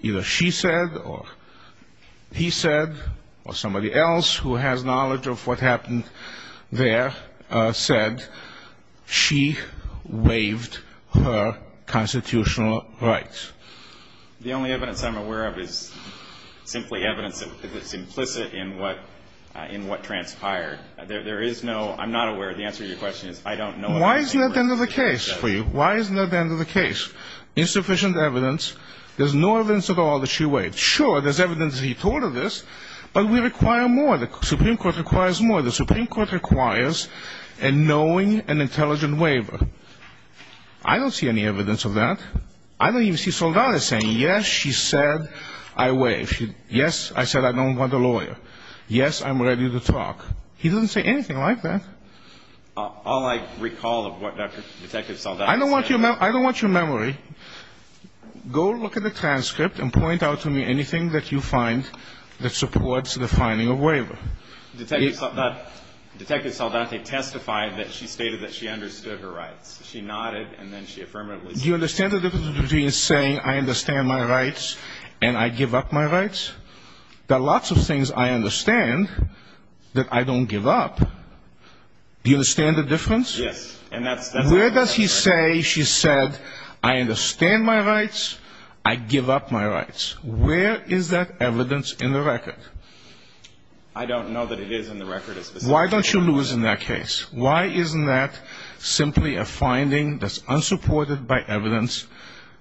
either she said or he said or somebody else who has knowledge of what happened there said she waived her constitutional rights? The only evidence I'm aware of is simply evidence that was implicit in what transpired. There is no, I'm not aware, the answer to your question is I don't know. Why isn't that the end of the case for you? Why isn't that the end of the case? There's insufficient evidence. There's no evidence at all that she waived. Sure, there's evidence that he told her this, but we require more. The Supreme Court requires more. The Supreme Court requires a knowing and intelligent waiver. I don't see any evidence of that. I don't even see Saldana saying, yes, she said I waived. Yes, I said I don't want a lawyer. Yes, I'm ready to talk. He didn't say anything like that. All I recall of what Detective Saldana said. I don't want your memory. Go look at the transcript and point out to me anything that you find that supports the finding of waiver. Detective Saldana testified that she stated that she understood her rights. She nodded, and then she affirmatively did. Do you understand the difference between saying I understand my rights and I give up my rights? There are lots of things I understand that I don't give up. Do you understand the difference? Yes. Where does she say she said I understand my rights, I give up my rights? Where is that evidence in the record? I don't know that it is in the record. Why don't you lose in that case? Why isn't that simply a finding that's unsupported by evidence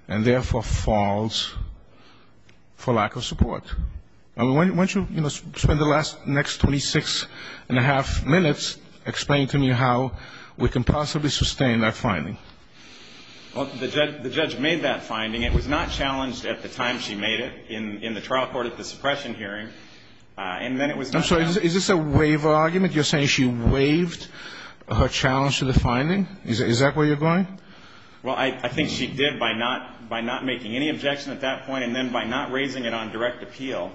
and therefore falls for lack of support? Why don't you spend the next 26 and a half minutes explaining to me how we can possibly sustain that finding? The judge made that finding. It was not challenged at the time she made it in the trial court at the suppression hearing. I'm sorry. Is this a waiver argument? You're saying she waived her challenge to the finding? Is that where you're going? Well, I think she did by not making any objection at that point and then by not raising it on direct appeal.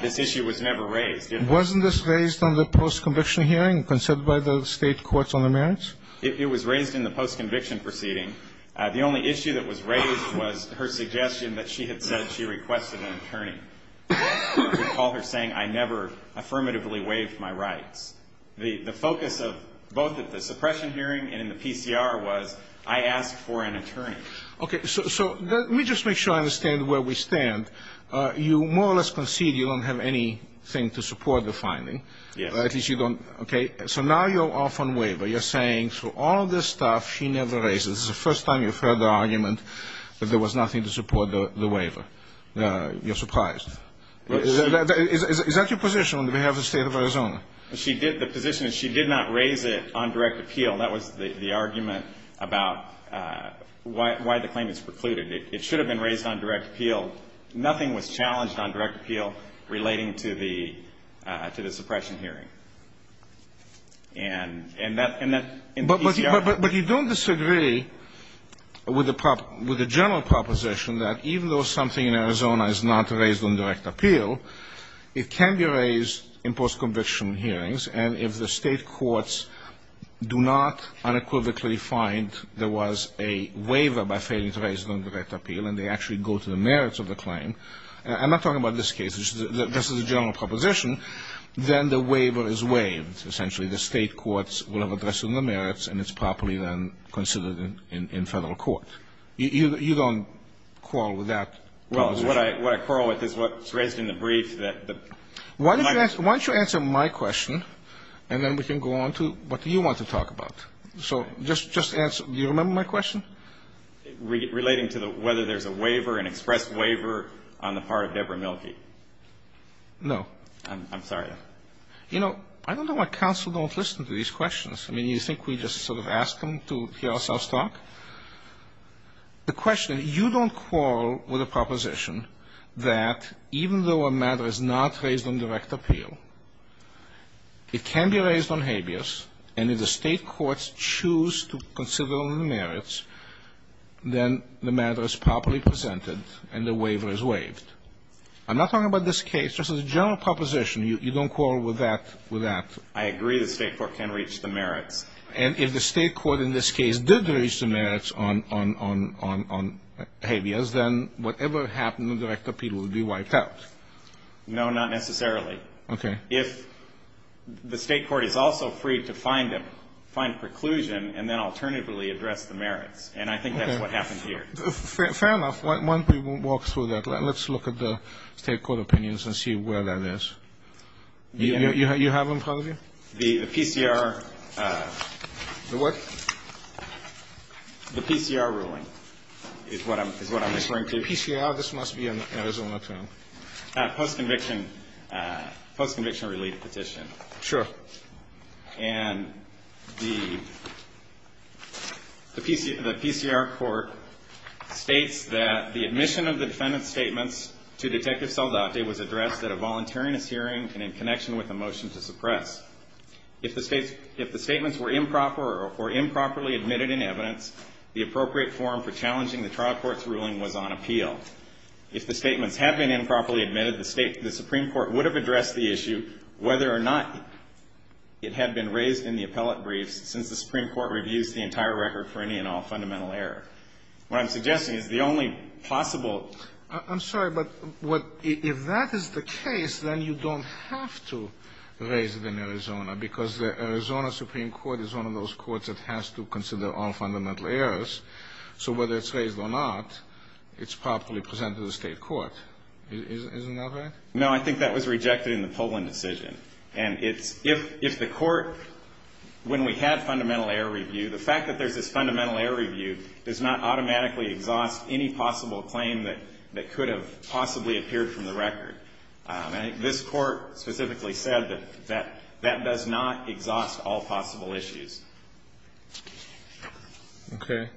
This issue was never raised. Wasn't this raised on the post-conviction hearing considered by the state courts on the merits? It was raised in the post-conviction proceeding. The only issue that was raised was her suggestion that she had said she requested an attorney to call her saying I never affirmatively waived my rights. The focus of both the suppression hearing and the PCR was I asked for an attorney. Okay, so let me just make sure I understand where we stand. You more or less concede you don't have anything to support the finding. At least you don't. Okay, so now you're off on waiver. You're saying through all this stuff she never raised it. This is the first time you've heard the argument that there was nothing to support the waiver. You're surprised. Is that your position on behalf of the state of Arizona? The position is she did not raise it on direct appeal. That was the argument about why the claim is precluded. It should have been raised on direct appeal. Nothing was challenged on direct appeal relating to the suppression hearing. But you don't disagree with the general proposition that even though something in Arizona is not raised on direct appeal, it can be raised in post-conviction hearings, and if the state courts do not unequivocally find there was a waiver by failing to raise it on direct appeal and they actually go to the merits of the claim, I'm not talking about this case. This is a general proposition, then the waiver is waived, essentially. The state courts will have addressed the merits, and it's properly then considered in federal court. You don't quarrel with that proposition. What I quarrel with is what's raised in the brief. Why don't you answer my question, and then we can go on to what you want to talk about. So just answer. Do you remember my question? Relating to whether there's a waiver, an express waiver on the part of Deborah Milkey. No. I'm sorry. You know, I don't know why counsel don't listen to these questions. I mean, you think we just sort of ask them to hear ourselves talk? The question, you don't quarrel with the proposition that even though a matter is not raised on direct appeal, it can be raised on habeas, and if the state courts choose to consider on the merits, then the matter is properly presented and the waiver is waived. I'm not talking about this case. This is a general proposition. You don't quarrel with that. I agree the state court can reach the merits. And if the state court in this case did reach the merits on habeas, then whatever happened in direct appeal would be wiped out. No, not necessarily. Okay. If the state court is also free to find preclusion and then alternatively address the merits, and I think that's what happens here. Fair enough. Why don't we walk through that? Let's look at the state court opinions and see where that is. You have them, colleague? The PCR. The what? The PCR ruling is what I'm referring to. PCR, this must be in Arizona, too. Post-conviction release petition. Sure. And the PCR court states that the admission of the defendant's statements to Detective Saldate was addressed at a voluntary hearing and in connection with a motion to suppress. If the statements were improper or improperly admitted in evidence, the appropriate form for challenging the trial court's ruling was on appeal. If the statements have been improperly admitted, the Supreme Court would have addressed the issue whether or not it had been raised in the appellate brief since the Supreme Court reviews the entire record for any and all fundamental error. What I'm suggesting is the only possible. I'm sorry, but if that is the case, then you don't have to raise it in Arizona because the Arizona Supreme Court is one of those courts that has to consider all fundamental errors. So whether it's raised or not, it's properly presented to the state court. Is that correct? No, I think that was rejected in the Poland decision. And if the court, when we have fundamental error review, the fact that there's a fundamental error review does not automatically exhaust any possible claim that could have possibly appeared from the record. This court specifically said that that does not exhaust all possible issues. Okay.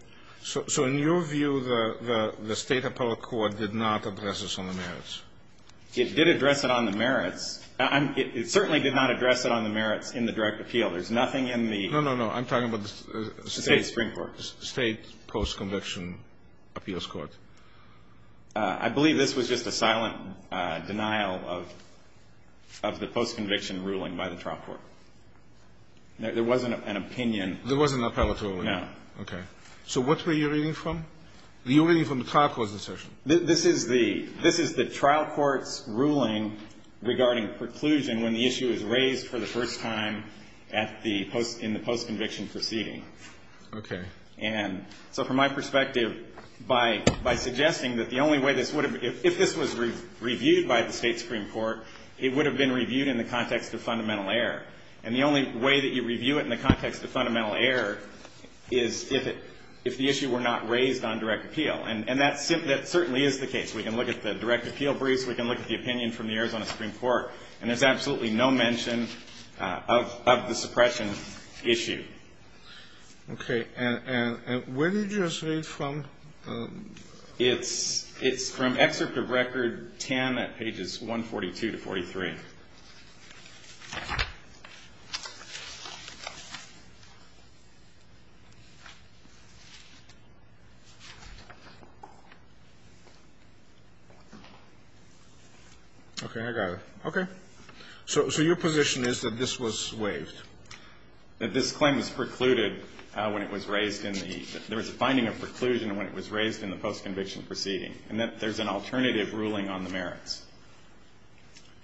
So in your view, the state appellate court did not address this on the merits? It did address it on the merits. It certainly did not address it on the merits in the direct appeal. There's nothing in the state post-conviction appeals court. I believe this was just a silent denial of the post-conviction ruling by the trial court. There wasn't an opinion. There wasn't an appellate ruling? No. Okay. So what were you reading from? Were you reading from the trial court's assertion? This is the trial court's ruling regarding preclusion when the issue is raised for the first time in the post-conviction proceeding. Okay. So from my perspective, by suggesting that the only way this would have been, if this was reviewed by the state Supreme Court, it would have been reviewed in the context of fundamental error. And the only way that you review it in the context of fundamental error is if the issue were not raised on direct appeal. And that certainly is the case. We can look at the direct appeal brief. We can look at the opinion from the Arizona Supreme Court. And there's absolutely no mention of the suppression issue. Okay. And where did you just read from? It's from excerpt of Record 10 at pages 142 to 143. Okay, I got it. Okay. So your position is that this was waived? That this claim was precluded when it was raised in the ‑‑ there was a finding of preclusion when it was raised in the post-conviction proceeding. And that there's an alternative ruling on the merits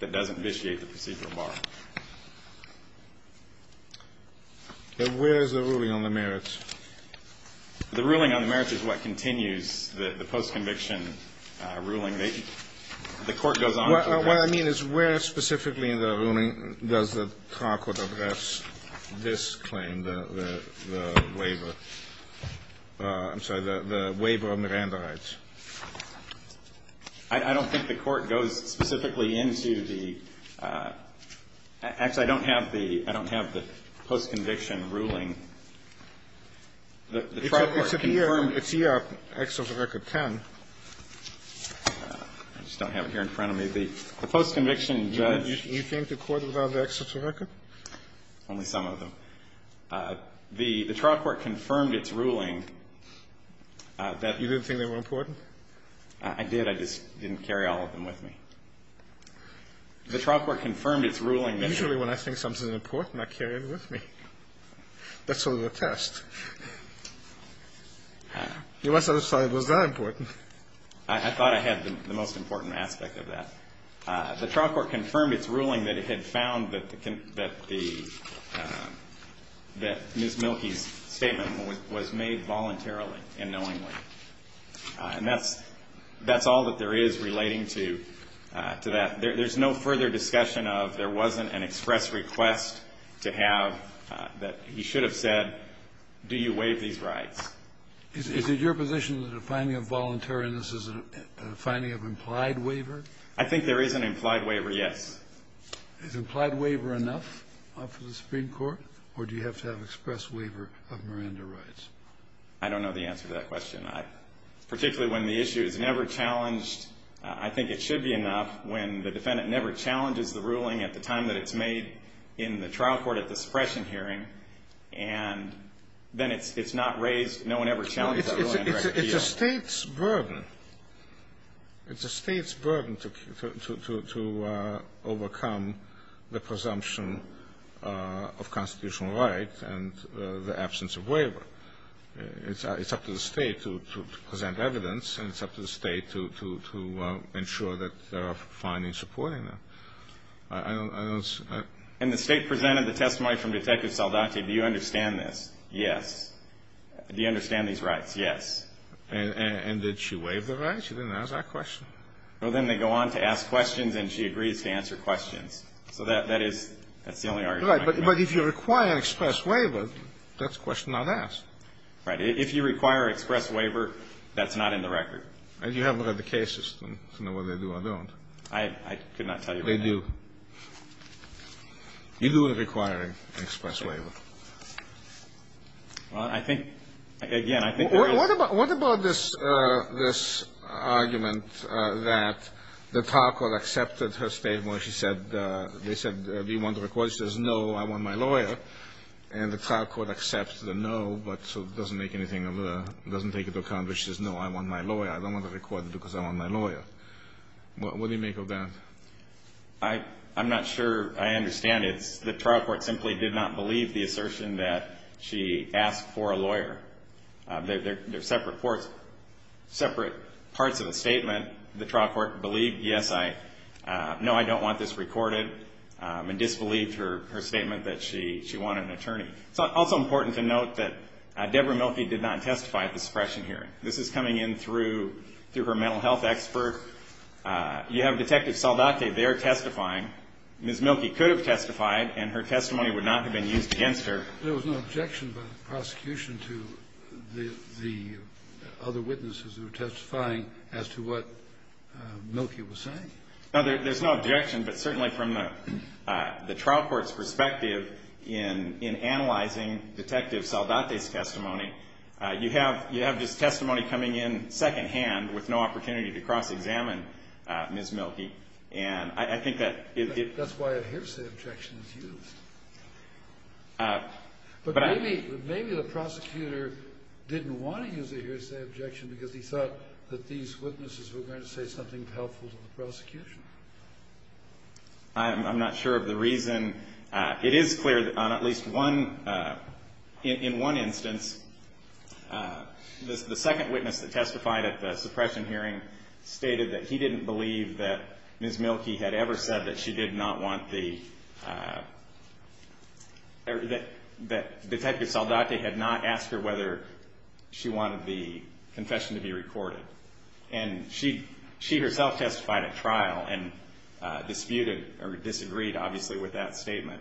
that doesn't vitiate the procedural bar. And where is the ruling on the merits? The ruling on the merits is what continues the post-conviction ruling. The court goes on to that. What I mean is where specifically in the ruling does the court address this claim, the waiver? I'm sorry, the waiver of Miranda rights. I don't think the court goes specifically into the ‑‑ actually, I don't have the post-conviction ruling. It's here, excerpt of Record 10. I just don't have it here in front of me. The post-conviction judge ‑‑ Do you think the court allowed the excerpt of Record? Only some of them. The trial court confirmed its ruling that ‑‑ You didn't think they were important? I did. I just didn't carry all of them with me. The trial court confirmed its ruling that ‑‑ You must have thought it was very important. I thought it had the most important aspect of that. The trial court confirmed its ruling that it had found that the ‑‑ that Ms. Mielke's statement was made voluntarily and knowingly. And that's all that there is relating to that. There's no further discussion of, there wasn't an express request to have, that he should have said, do you waive these rights? Is it your position that a finding of voluntariness is a finding of implied waiver? I think there is an implied waiver yet. Is implied waiver enough for the Supreme Court? Or do you have to have express waiver of Miranda rights? I don't know the answer to that question. Particularly when the issue is never challenged, I think it should be enough when the defendant never challenges the ruling at the time that it's made in the trial court at the suppression hearing, and then it's not raised, no one ever challenges that ruling. It's a state's burden. It's a state's burden to overcome the presumption of constitutional right and the absence of waiver. It's up to the state to present evidence, and it's up to the state to ensure that there are findings supporting that. And the state presented the testimony from Detective Saldate. Do you understand this? Yes. Do you understand these rights? Yes. And did she waive the rights? She didn't ask that question. Well, then they go on to ask questions, and she agrees to answer questions. So that's the only argument I have. Right, but if you require express waiver, that's a question not asked. Right. If you require express waiver, that's not in the record. You haven't heard the cases to know whether they do or don't. I cannot tell you. They do. You do require express waiver. Well, I think, again, I think... What about this argument that the trial court accepted her statement when she said, they said, do you want the request? She says, no, I want my lawyer, and the trial court accepts the no, but so it doesn't make anything of the... It doesn't take into account that she says, no, I want my lawyer. I don't want to record it because I want my lawyer. What do you make of that? I'm not sure I understand it. The trial court simply did not believe the assertion that she asked for a lawyer. They're separate parts of the statement. The trial court believed, yes, I... No, I don't want this recorded, and disbelieved her statement that she wanted an attorney. It's also important to note that Deborah Mielke did not testify at the suppression hearing. This is coming in through her mental health expert. You have Detective Saldate there testifying. Ms. Mielke could have testified, and her testimony would not have been used against her. There was no objection by the prosecution to the other witnesses who were testifying as to what Mielke was saying? There's no objection, but certainly from the trial court's perspective, in analyzing Detective Saldate's testimony, you have this testimony coming in secondhand with no opportunity to cross-examine Ms. Mielke. That's why a hearsay objection is used. But maybe the prosecutor didn't want to use a hearsay objection because he thought that these witnesses were going to say something helpful to the prosecution. I'm not sure of the reason. It is clear that on at least one... In one instance, the second witness that testified at the suppression hearing stated that he didn't believe that Ms. Mielke had ever said that she did not want the... that Detective Saldate had not asked her whether she wanted the confession to be recorded. And she herself testified at trial and disputed or disagreed, obviously, with that statement.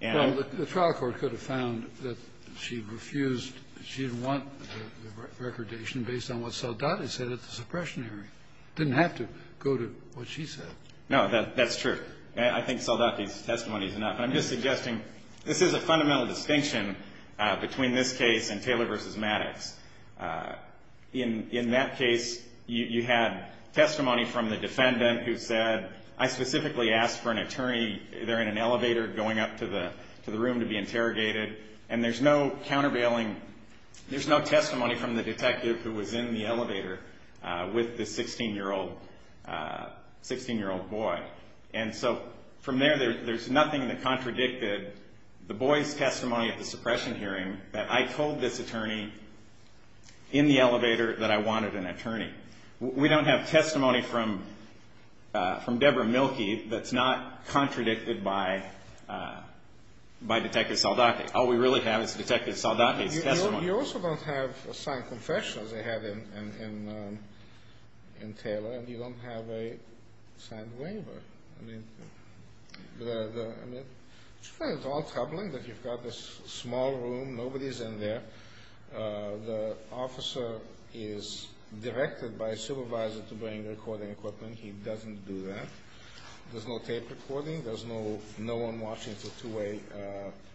The trial court could have found that she refused... that she didn't want the recordation based on what Saldate said at the suppression hearing. It didn't have to go to what she said. No, that's true. I think Saldate's testimony is enough. I'm just suggesting this is a fundamental distinction between this case and Taylor v. Maddox. In that case, you had testimony from the defendant who said, I specifically asked for an attorney there in an elevator going up to the room to be interrogated. And there's no countervailing... there's no testimony from the defective who was in the elevator with this 16-year-old boy. And so, from there, there's nothing that contradicted the boy's testimony at the suppression hearing that I told this attorney in the elevator that I wanted an attorney. We don't have testimony from Deborah Mielke that's not contradicted by Detective Saldate. All we really have is Detective Saldate's testimony. You also don't have a signed confession, as they have in Taylor, and you don't have a signed waiver. I mean, it's all troubling that you've got this small room, nobody's in there. The officer is directed by a supervisor to bring recording equipment. He doesn't do that. There's no tape recording. There's no one watching through two-way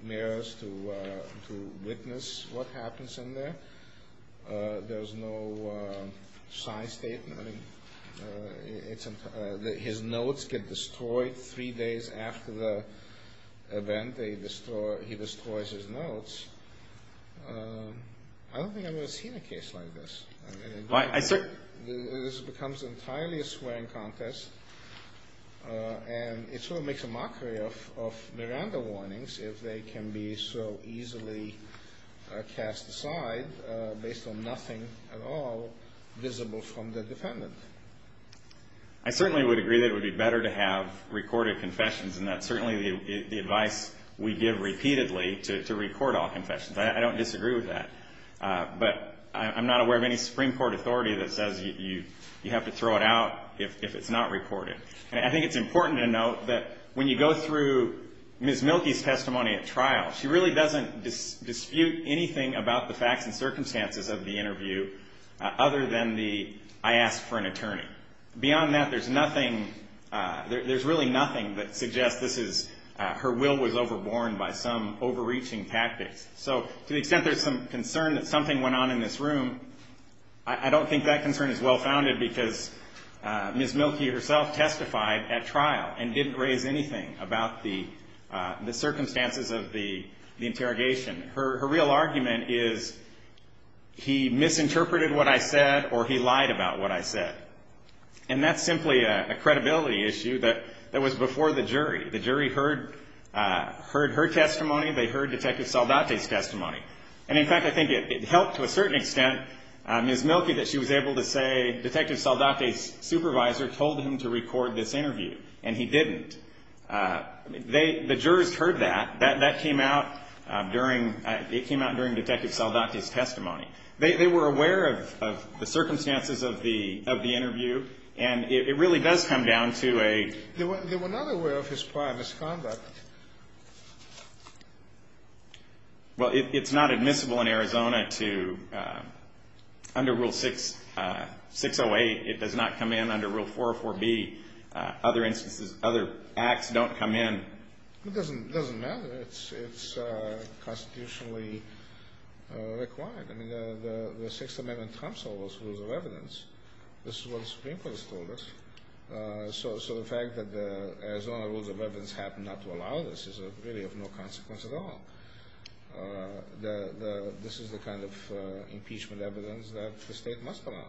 mirrors to witness what happens in there. There's no signed statement. His notes get destroyed three days after the event. He destroys his notes. I don't think I've ever seen a case like this. This becomes entirely a swearing contest, and it sort of makes a mockery of Miranda warnings, if they can be so easily cast aside based on nothing at all visible from the defendant. I certainly would agree that it would be better to have recorded confessions, and that's certainly the advice we give repeatedly to record all confessions. I don't disagree with that. But I'm not aware of any Supreme Court authority that says you have to throw it out if it's not reported. I think it's important to note that when you go through Ms. Mielke's testimony at trial, she really doesn't dispute anything about the facts and circumstances of the interview other than the, I asked for an attorney. Beyond that, there's really nothing that suggests her will was overborne by some overreaching tactic. So to the extent there's some concern that something went on in this room, I don't think that concern is well-founded because Ms. Mielke herself testified at trial and didn't raise anything about the circumstances of the interrogation. Her real argument is, he misinterpreted what I said or he lied about what I said. And that's simply a credibility issue that was before the jury. The jury heard her testimony. They heard Detective Saldate's testimony. And, in fact, I think it helped to a certain extent Ms. Mielke that she was able to say, Detective Saldate's supervisor told him to record this interview, and he didn't. The jurors heard that. That came out during Detective Saldate's testimony. They were aware of the circumstances of the interview, and it really does come down to a They were not aware of his prior misconduct. Well, it's not admissible in Arizona to, under Rule 608, it does not come in under Rule 404B. Other acts don't come in. It doesn't matter. It's constitutionally required. The Sixth Amendment trumps all those rules of evidence. This is what the Supreme Court has told us. So the fact that the Arizona rules of evidence happen not to allow this is really of no consequence at all. This is the kind of impeachment evidence that the state must allow.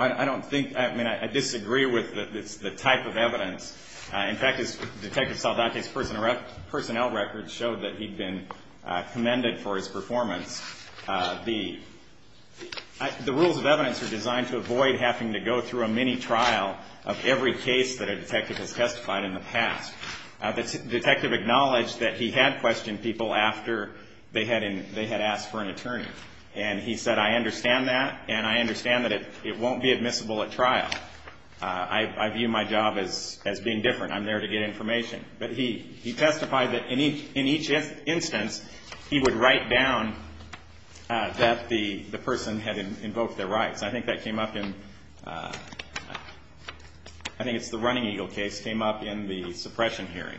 I don't think, I mean, I disagree with the type of evidence. In fact, Detective Saldate's personnel records show that he'd been commended for his performance. The rules of evidence are designed to avoid having to go through a mini-trial of every case that a detective has testified in the past. The detective acknowledged that he had questioned people after they had asked for an attorney, and he said, I understand that, and I understand that it won't be admissible at trial. I view my job as being different. I'm there to get information. He testified that in each instance, he would write down that the person had invoked their rights. I think that came up in, I think it's the Running Eagle case, came up in the suppression hearing.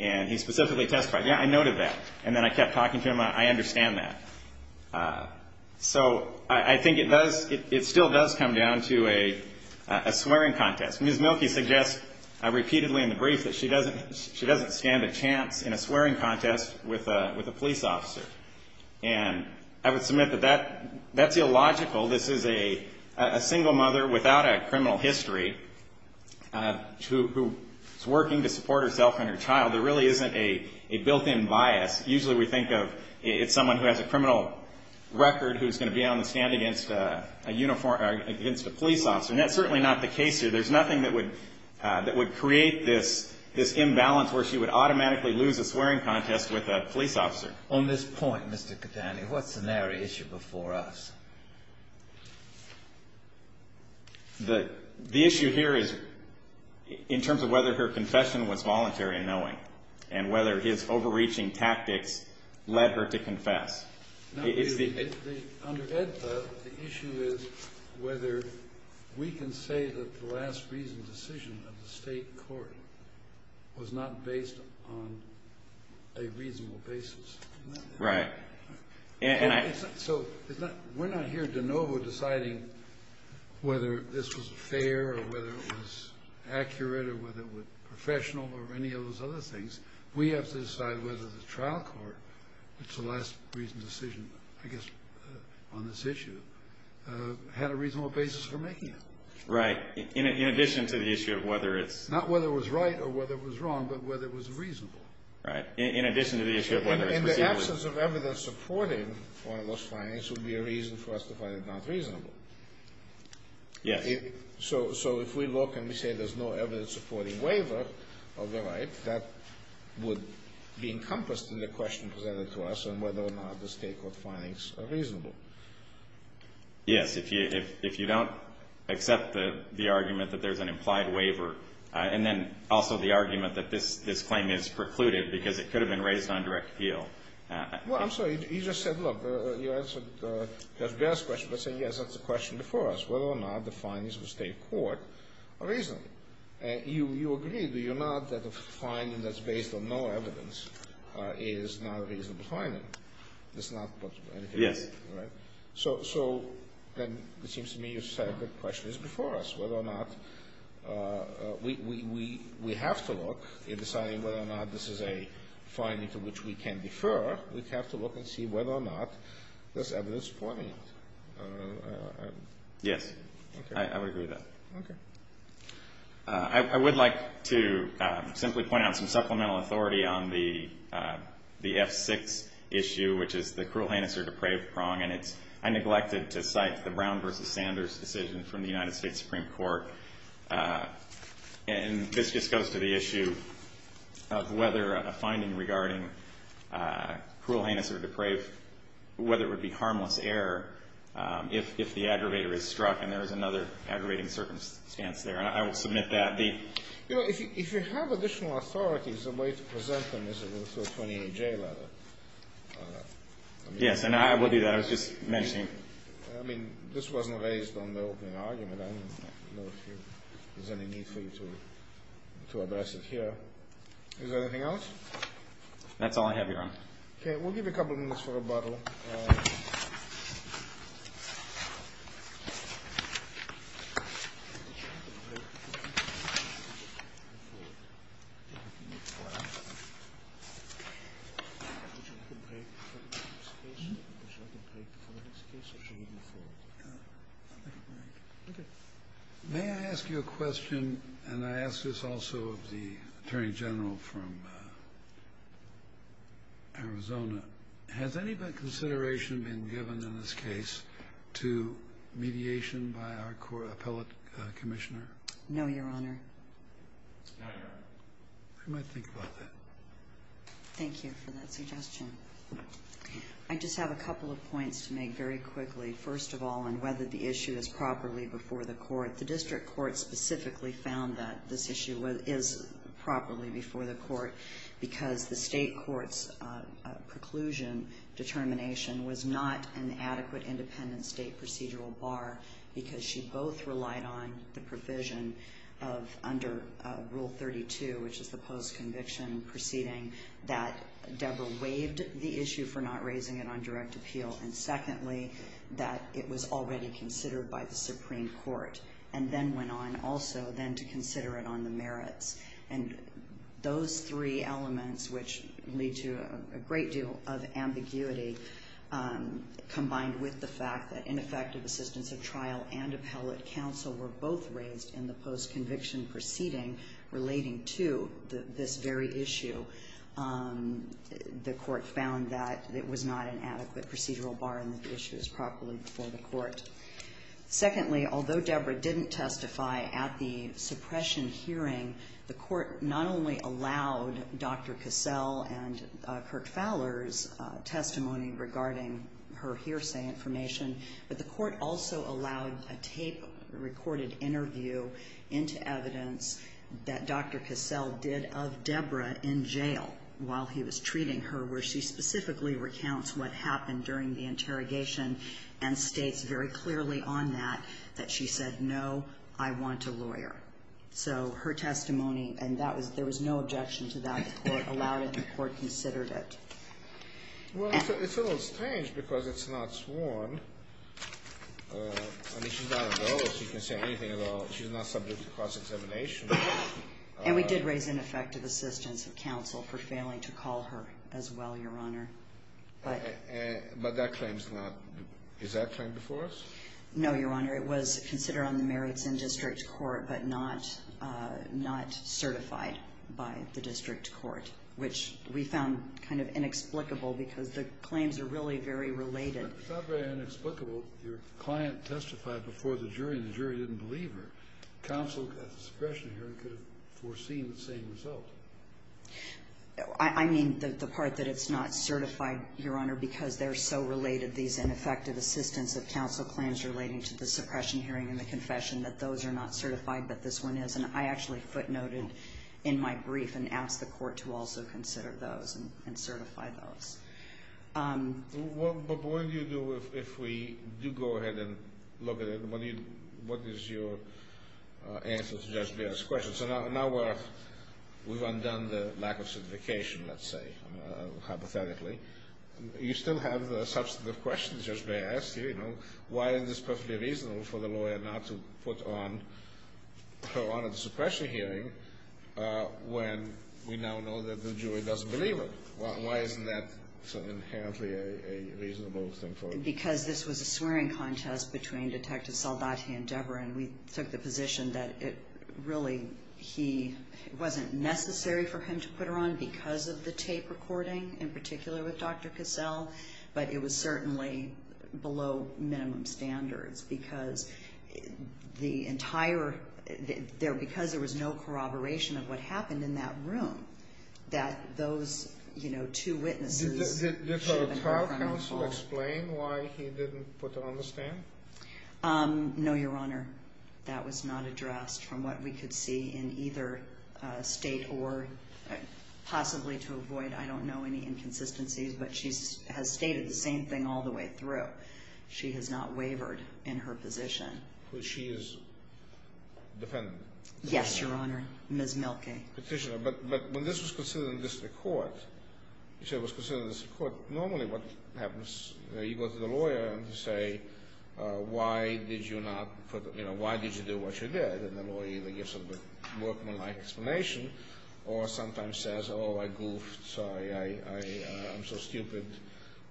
And he specifically testified, yeah, I noted that, and then I kept talking to him. I understand that. So I think it does, it still does come down to a swearing contest. Ms. Mielke suggests repeatedly in the brief that she doesn't stand a chance in a swearing contest with a police officer. And I would submit that that's illogical. This is a single mother without a criminal history who is working to support herself and her child. There really isn't a built-in bias. Usually we think of someone who has a criminal record who's going to be able to stand against a police officer, and that's certainly not the case here. There's nothing that would create this imbalance where she would automatically lose a swearing contest with a police officer. On this point, Mr. Catani, what's the narrow issue before us? The issue here is in terms of whether her confession was voluntary in knowing and whether his overreaching tactic led her to confess. Under EDSA, the issue is whether we can say that the last reasoned decision of the state court was not based on a reasonable basis. Right. So we're not here de novo deciding whether this was fair or whether it was accurate or whether it was professional or any of those other things. We have to decide whether the trial court, which is the last reasoned decision, I guess, on this issue, had a reasonable basis for making it. Right, in addition to the issue of whether it's— Not whether it was right or whether it was wrong, but whether it was reasonable. Right, in addition to the issue of whether it was— In the absence of evidence supporting wireless findings, there would be a reason for us to find it not reasonable. Yeah. So if we look and we say there's no evidence supporting waiver of the right, that would be encompassed in the question presented to us on whether or not the state court findings are reasonable. Yes, if you don't accept the argument that there's an implied waiver, and then also the argument that this claim is precluded because it could have been raised on direct appeal. Well, I'm sorry, you just said, look, you answered that last question by saying, yes, that's a question before us, whether or not the findings of the state court are reasonable. You agree, do you not, that a finding that's based on no evidence is not a reasonable finding? It's not possible, right? Yeah. So then it seems to me you've said the question is before us, whether or not we have to look and decide whether or not this is a finding to which we can defer, we have to look and see whether or not there's evidence supporting it. Yeah, I would agree with that. Okay. I would like to simply point out some supplemental authority on the F6 issue, which is the cruel handicer to Cravecrong, and I neglected to cite the Brown v. Sanders decision from the United States Supreme Court. And this just goes to the issue of whether a finding regarding cruel handicer to Cravecrong, whether it would be harmless error if the aggravator is struck and there is another aggravating circumstance there. I will submit that. You know, if you have additional authorities, the way to present them is through a 20-J letter. Yes, and I will do that. I was just mentioning. I mean, this wasn't raised on the opening argument. I don't know if there's any need for you to address it here. Is there anything else? That's all I have, Your Honor. Okay, we'll give you a couple of minutes for rebuttal. May I ask you a question? And I ask this also of the Attorney General from Arizona. Has any consideration been given in this case to mediation by our court appellate commissioner? No, Your Honor. I might think about that. Thank you for that suggestion. I just have a couple of points to make very quickly. First of all, on whether the issue is properly before the court. The district court specifically found that this issue is properly before the court because the state court's preclusion determination was not an adequate independent state procedural bar because she both relied on the provision of under Rule 32, which is the post-conviction proceeding, that Debra waived the issue for not raising it on direct appeal. And secondly, that it was already considered by the Supreme Court and then went on also then to consider it on the merits. And those three elements, which lead to a great deal of ambiguity, combined with the fact that ineffective assistance at trial and appellate counsel were both raised in the post-conviction proceeding relating to this very issue. The court found that it was not an adequate procedural bar and the issue is properly before the court. Secondly, although Debra didn't testify at the suppression hearing, the court not only allowed Dr. Cassell and Kirk Fowler's testimony regarding her hearsay information, but the court also allowed a tape-recorded interview into evidence that Dr. Cassell did of Debra in jail while he was treating her where she specifically recounts what happened during the interrogation and states very clearly on that that she said, no, I want a lawyer. So her testimony, and there was no objection to that, was allowed if the court considered it. Well, it's a little strange because it's not sworn. I mean, she's not on bail, so you can say anything about she's not subject to cross-examination. And we did raise ineffective assistance at counsel for failing to call her as well, Your Honor. But that claim is not, is that claim before us? No, Your Honor. It was considered on the merits in district court but not certified by the district court, which we found kind of inexplicable because the claims are really very related. It's not very inexplicable. Your client testified before the jury, and the jury didn't believe her. Counsel at the suppression hearing could have foreseen the same result. I mean the part that it's not certified, Your Honor, because they're so related, these ineffective assistance at counsel claims relating to the suppression hearing and the confession, that those are not certified but this one is. And I actually footnoted in my brief and asked the court to also consider those and certify those. But what do you do if we do go ahead and look at it? What is your answer to Judge Baird's question? So now we've undone the lack of certification, let's say, hypothetically. You still have substantive questions, Judge Baird. Why isn't this perfectly reasonable for the lawyer not to put on her on a suppression hearing when we now know that the jury doesn't believe it? Why isn't that something inherently a reasonable thing for you? Because this was a swearing contest between Detective Saldati and Deborah, and we took the position that it really wasn't necessary for him to put her on because of the tape recording, in particular with Dr. Cassell. But it was certainly below minimum standards because the entire – because there was no corroboration of what happened in that room, that those, you know, two witnesses. Did the trial counsel explain why he didn't put her on the stand? No, Your Honor. That was not addressed from what we could see in either state or possibly to avoid, I don't know, any inconsistencies, but she has stated the same thing all the way through. She has not wavered in her position. So she is dependent? Yes, Your Honor, Ms. Mielke. But when this was considered in the district court, you said it was considered in the district court, so normally what happens is you go to the lawyer and say, why did you not put – you know, why did you do what you did? And the lawyer either gives a more polite explanation or sometimes says, oh, I goofed, sorry, I'm so stupid,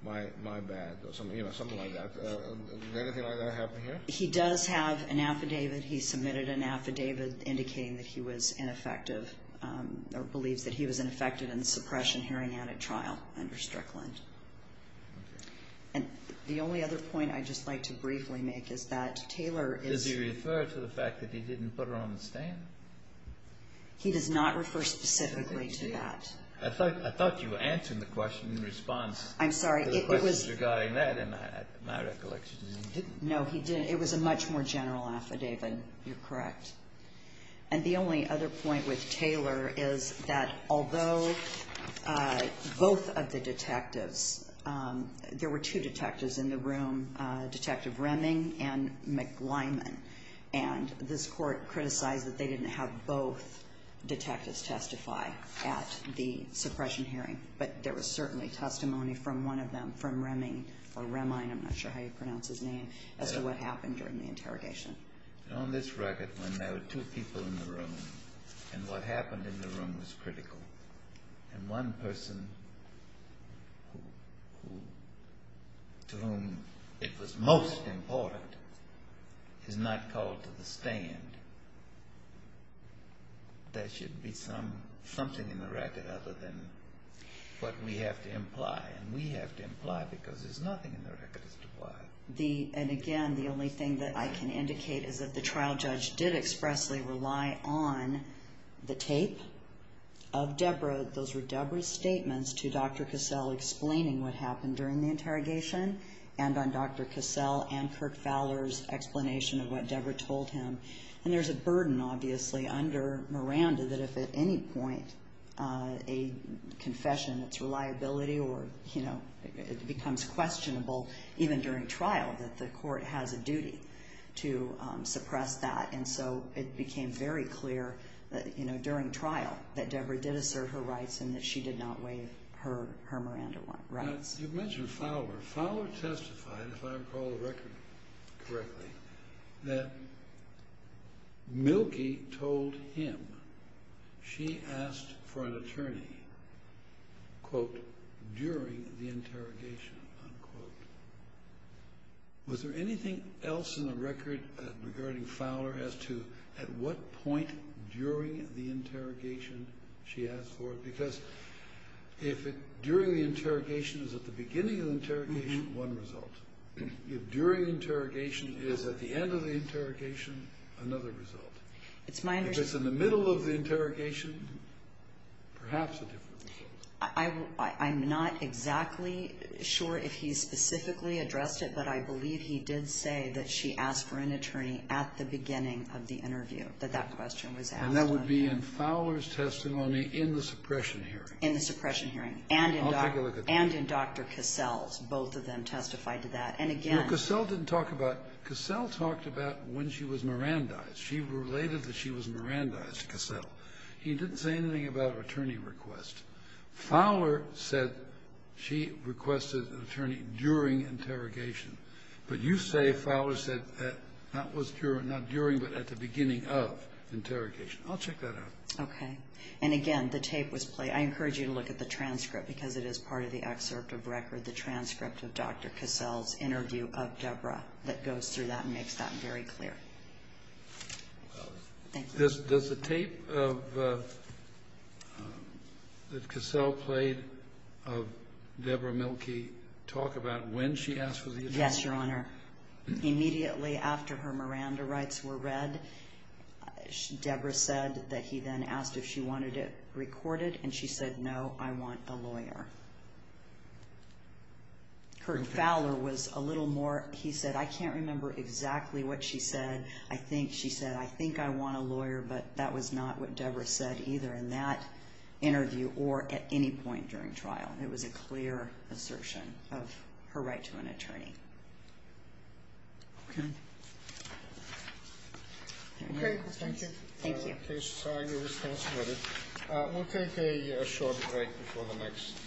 my bad, or something like that. Is anything like that happening here? He does have an affidavit. He submitted an affidavit indicating that he was ineffective or believed that he was ineffective in the suppression hearing at a trial under Strickland. And the only other point I'd just like to briefly make is that Taylor is – Does he refer to the fact that he didn't put her on the stand? He does not refer specifically to that. I thought you were answering the question in response to the questions regarding that, and my recollection is he didn't. No, he didn't. It was a much more general affidavit, you're correct. And the only other point with Taylor is that although both of the detectives – there were two detectives in the room, Detective Reming and McLineman, and this court criticized that they didn't have both detectives testify at the suppression hearing, but there was certainly testimony from one of them, from Reming, or Rem-I, I'm not sure how you pronounce his name, as to what happened during the interrogation. On this record, when there were two people in the room and what happened in the room was critical, and one person to whom it was most important is not called to the stand, there should be something in the record other than what we have to imply. And we have to imply because there's nothing in the record to imply. And again, the only thing that I can indicate is that the trial judge did expressly rely on the tapes of Deborah. Those were Deborah's statements to Dr. Cassell explaining what happened during the interrogation and on Dr. Cassell and Kirk Fowler's explanation of what Deborah told him. And there's a burden, obviously, under Miranda that if at any point a confession, it's a liability or it becomes questionable, even during trial, that the court has a duty to suppress that. And so it became very clear during trial that Deborah did assert her rights and that she did not waive her Miranda one. You mentioned Fowler. Fowler testified, if I recall the record correctly, that Mielke told him she asked for an attorney, quote, during the interrogation, unquote. Was there anything else in the record regarding Fowler as to at what point during the interrogation she asked for it? Because if during the interrogation is at the beginning of the interrogation, one result. If during the interrogation is at the end of the interrogation, another result. If it's in the middle of the interrogation, perhaps a different result. I'm not exactly sure if he specifically addressed it, but I believe he did say that she asked for an attorney at the beginning of the interview, And that would be in Fowler's testimony in the suppression hearing. In the suppression hearing and in Dr. Cassell's. Both of them testified to that. Cassell talked about when she was Mirandized. She related that she was Mirandized to Cassell. He didn't say anything about an attorney request. Fowler said she requested an attorney during interrogation. But you say Fowler said that not during but at the beginning of interrogation. I'll check that out. Okay. And again, the tape was played. I encourage you to look at the transcript because it is part of the excerpt of record, the transcript of Dr. Cassell's interview of Deborah that goes through that and makes that very clear. Does the tape that Cassell played of Deborah Milkey talk about when she asked for the attorney? Yes, Your Honor. Immediately after her Miranda rights were read, Deborah said that he then asked if she wanted it recorded. And she said, no, I want a lawyer. Heard Fowler was a little more, he said, I can't remember exactly what she said. I think she said, I think I want a lawyer, but that was not what Deborah said either in that interview or at any point during trial. And it was a clear assertion of her right to an attorney. Thank you. Thank you. We'll take a short break before the next.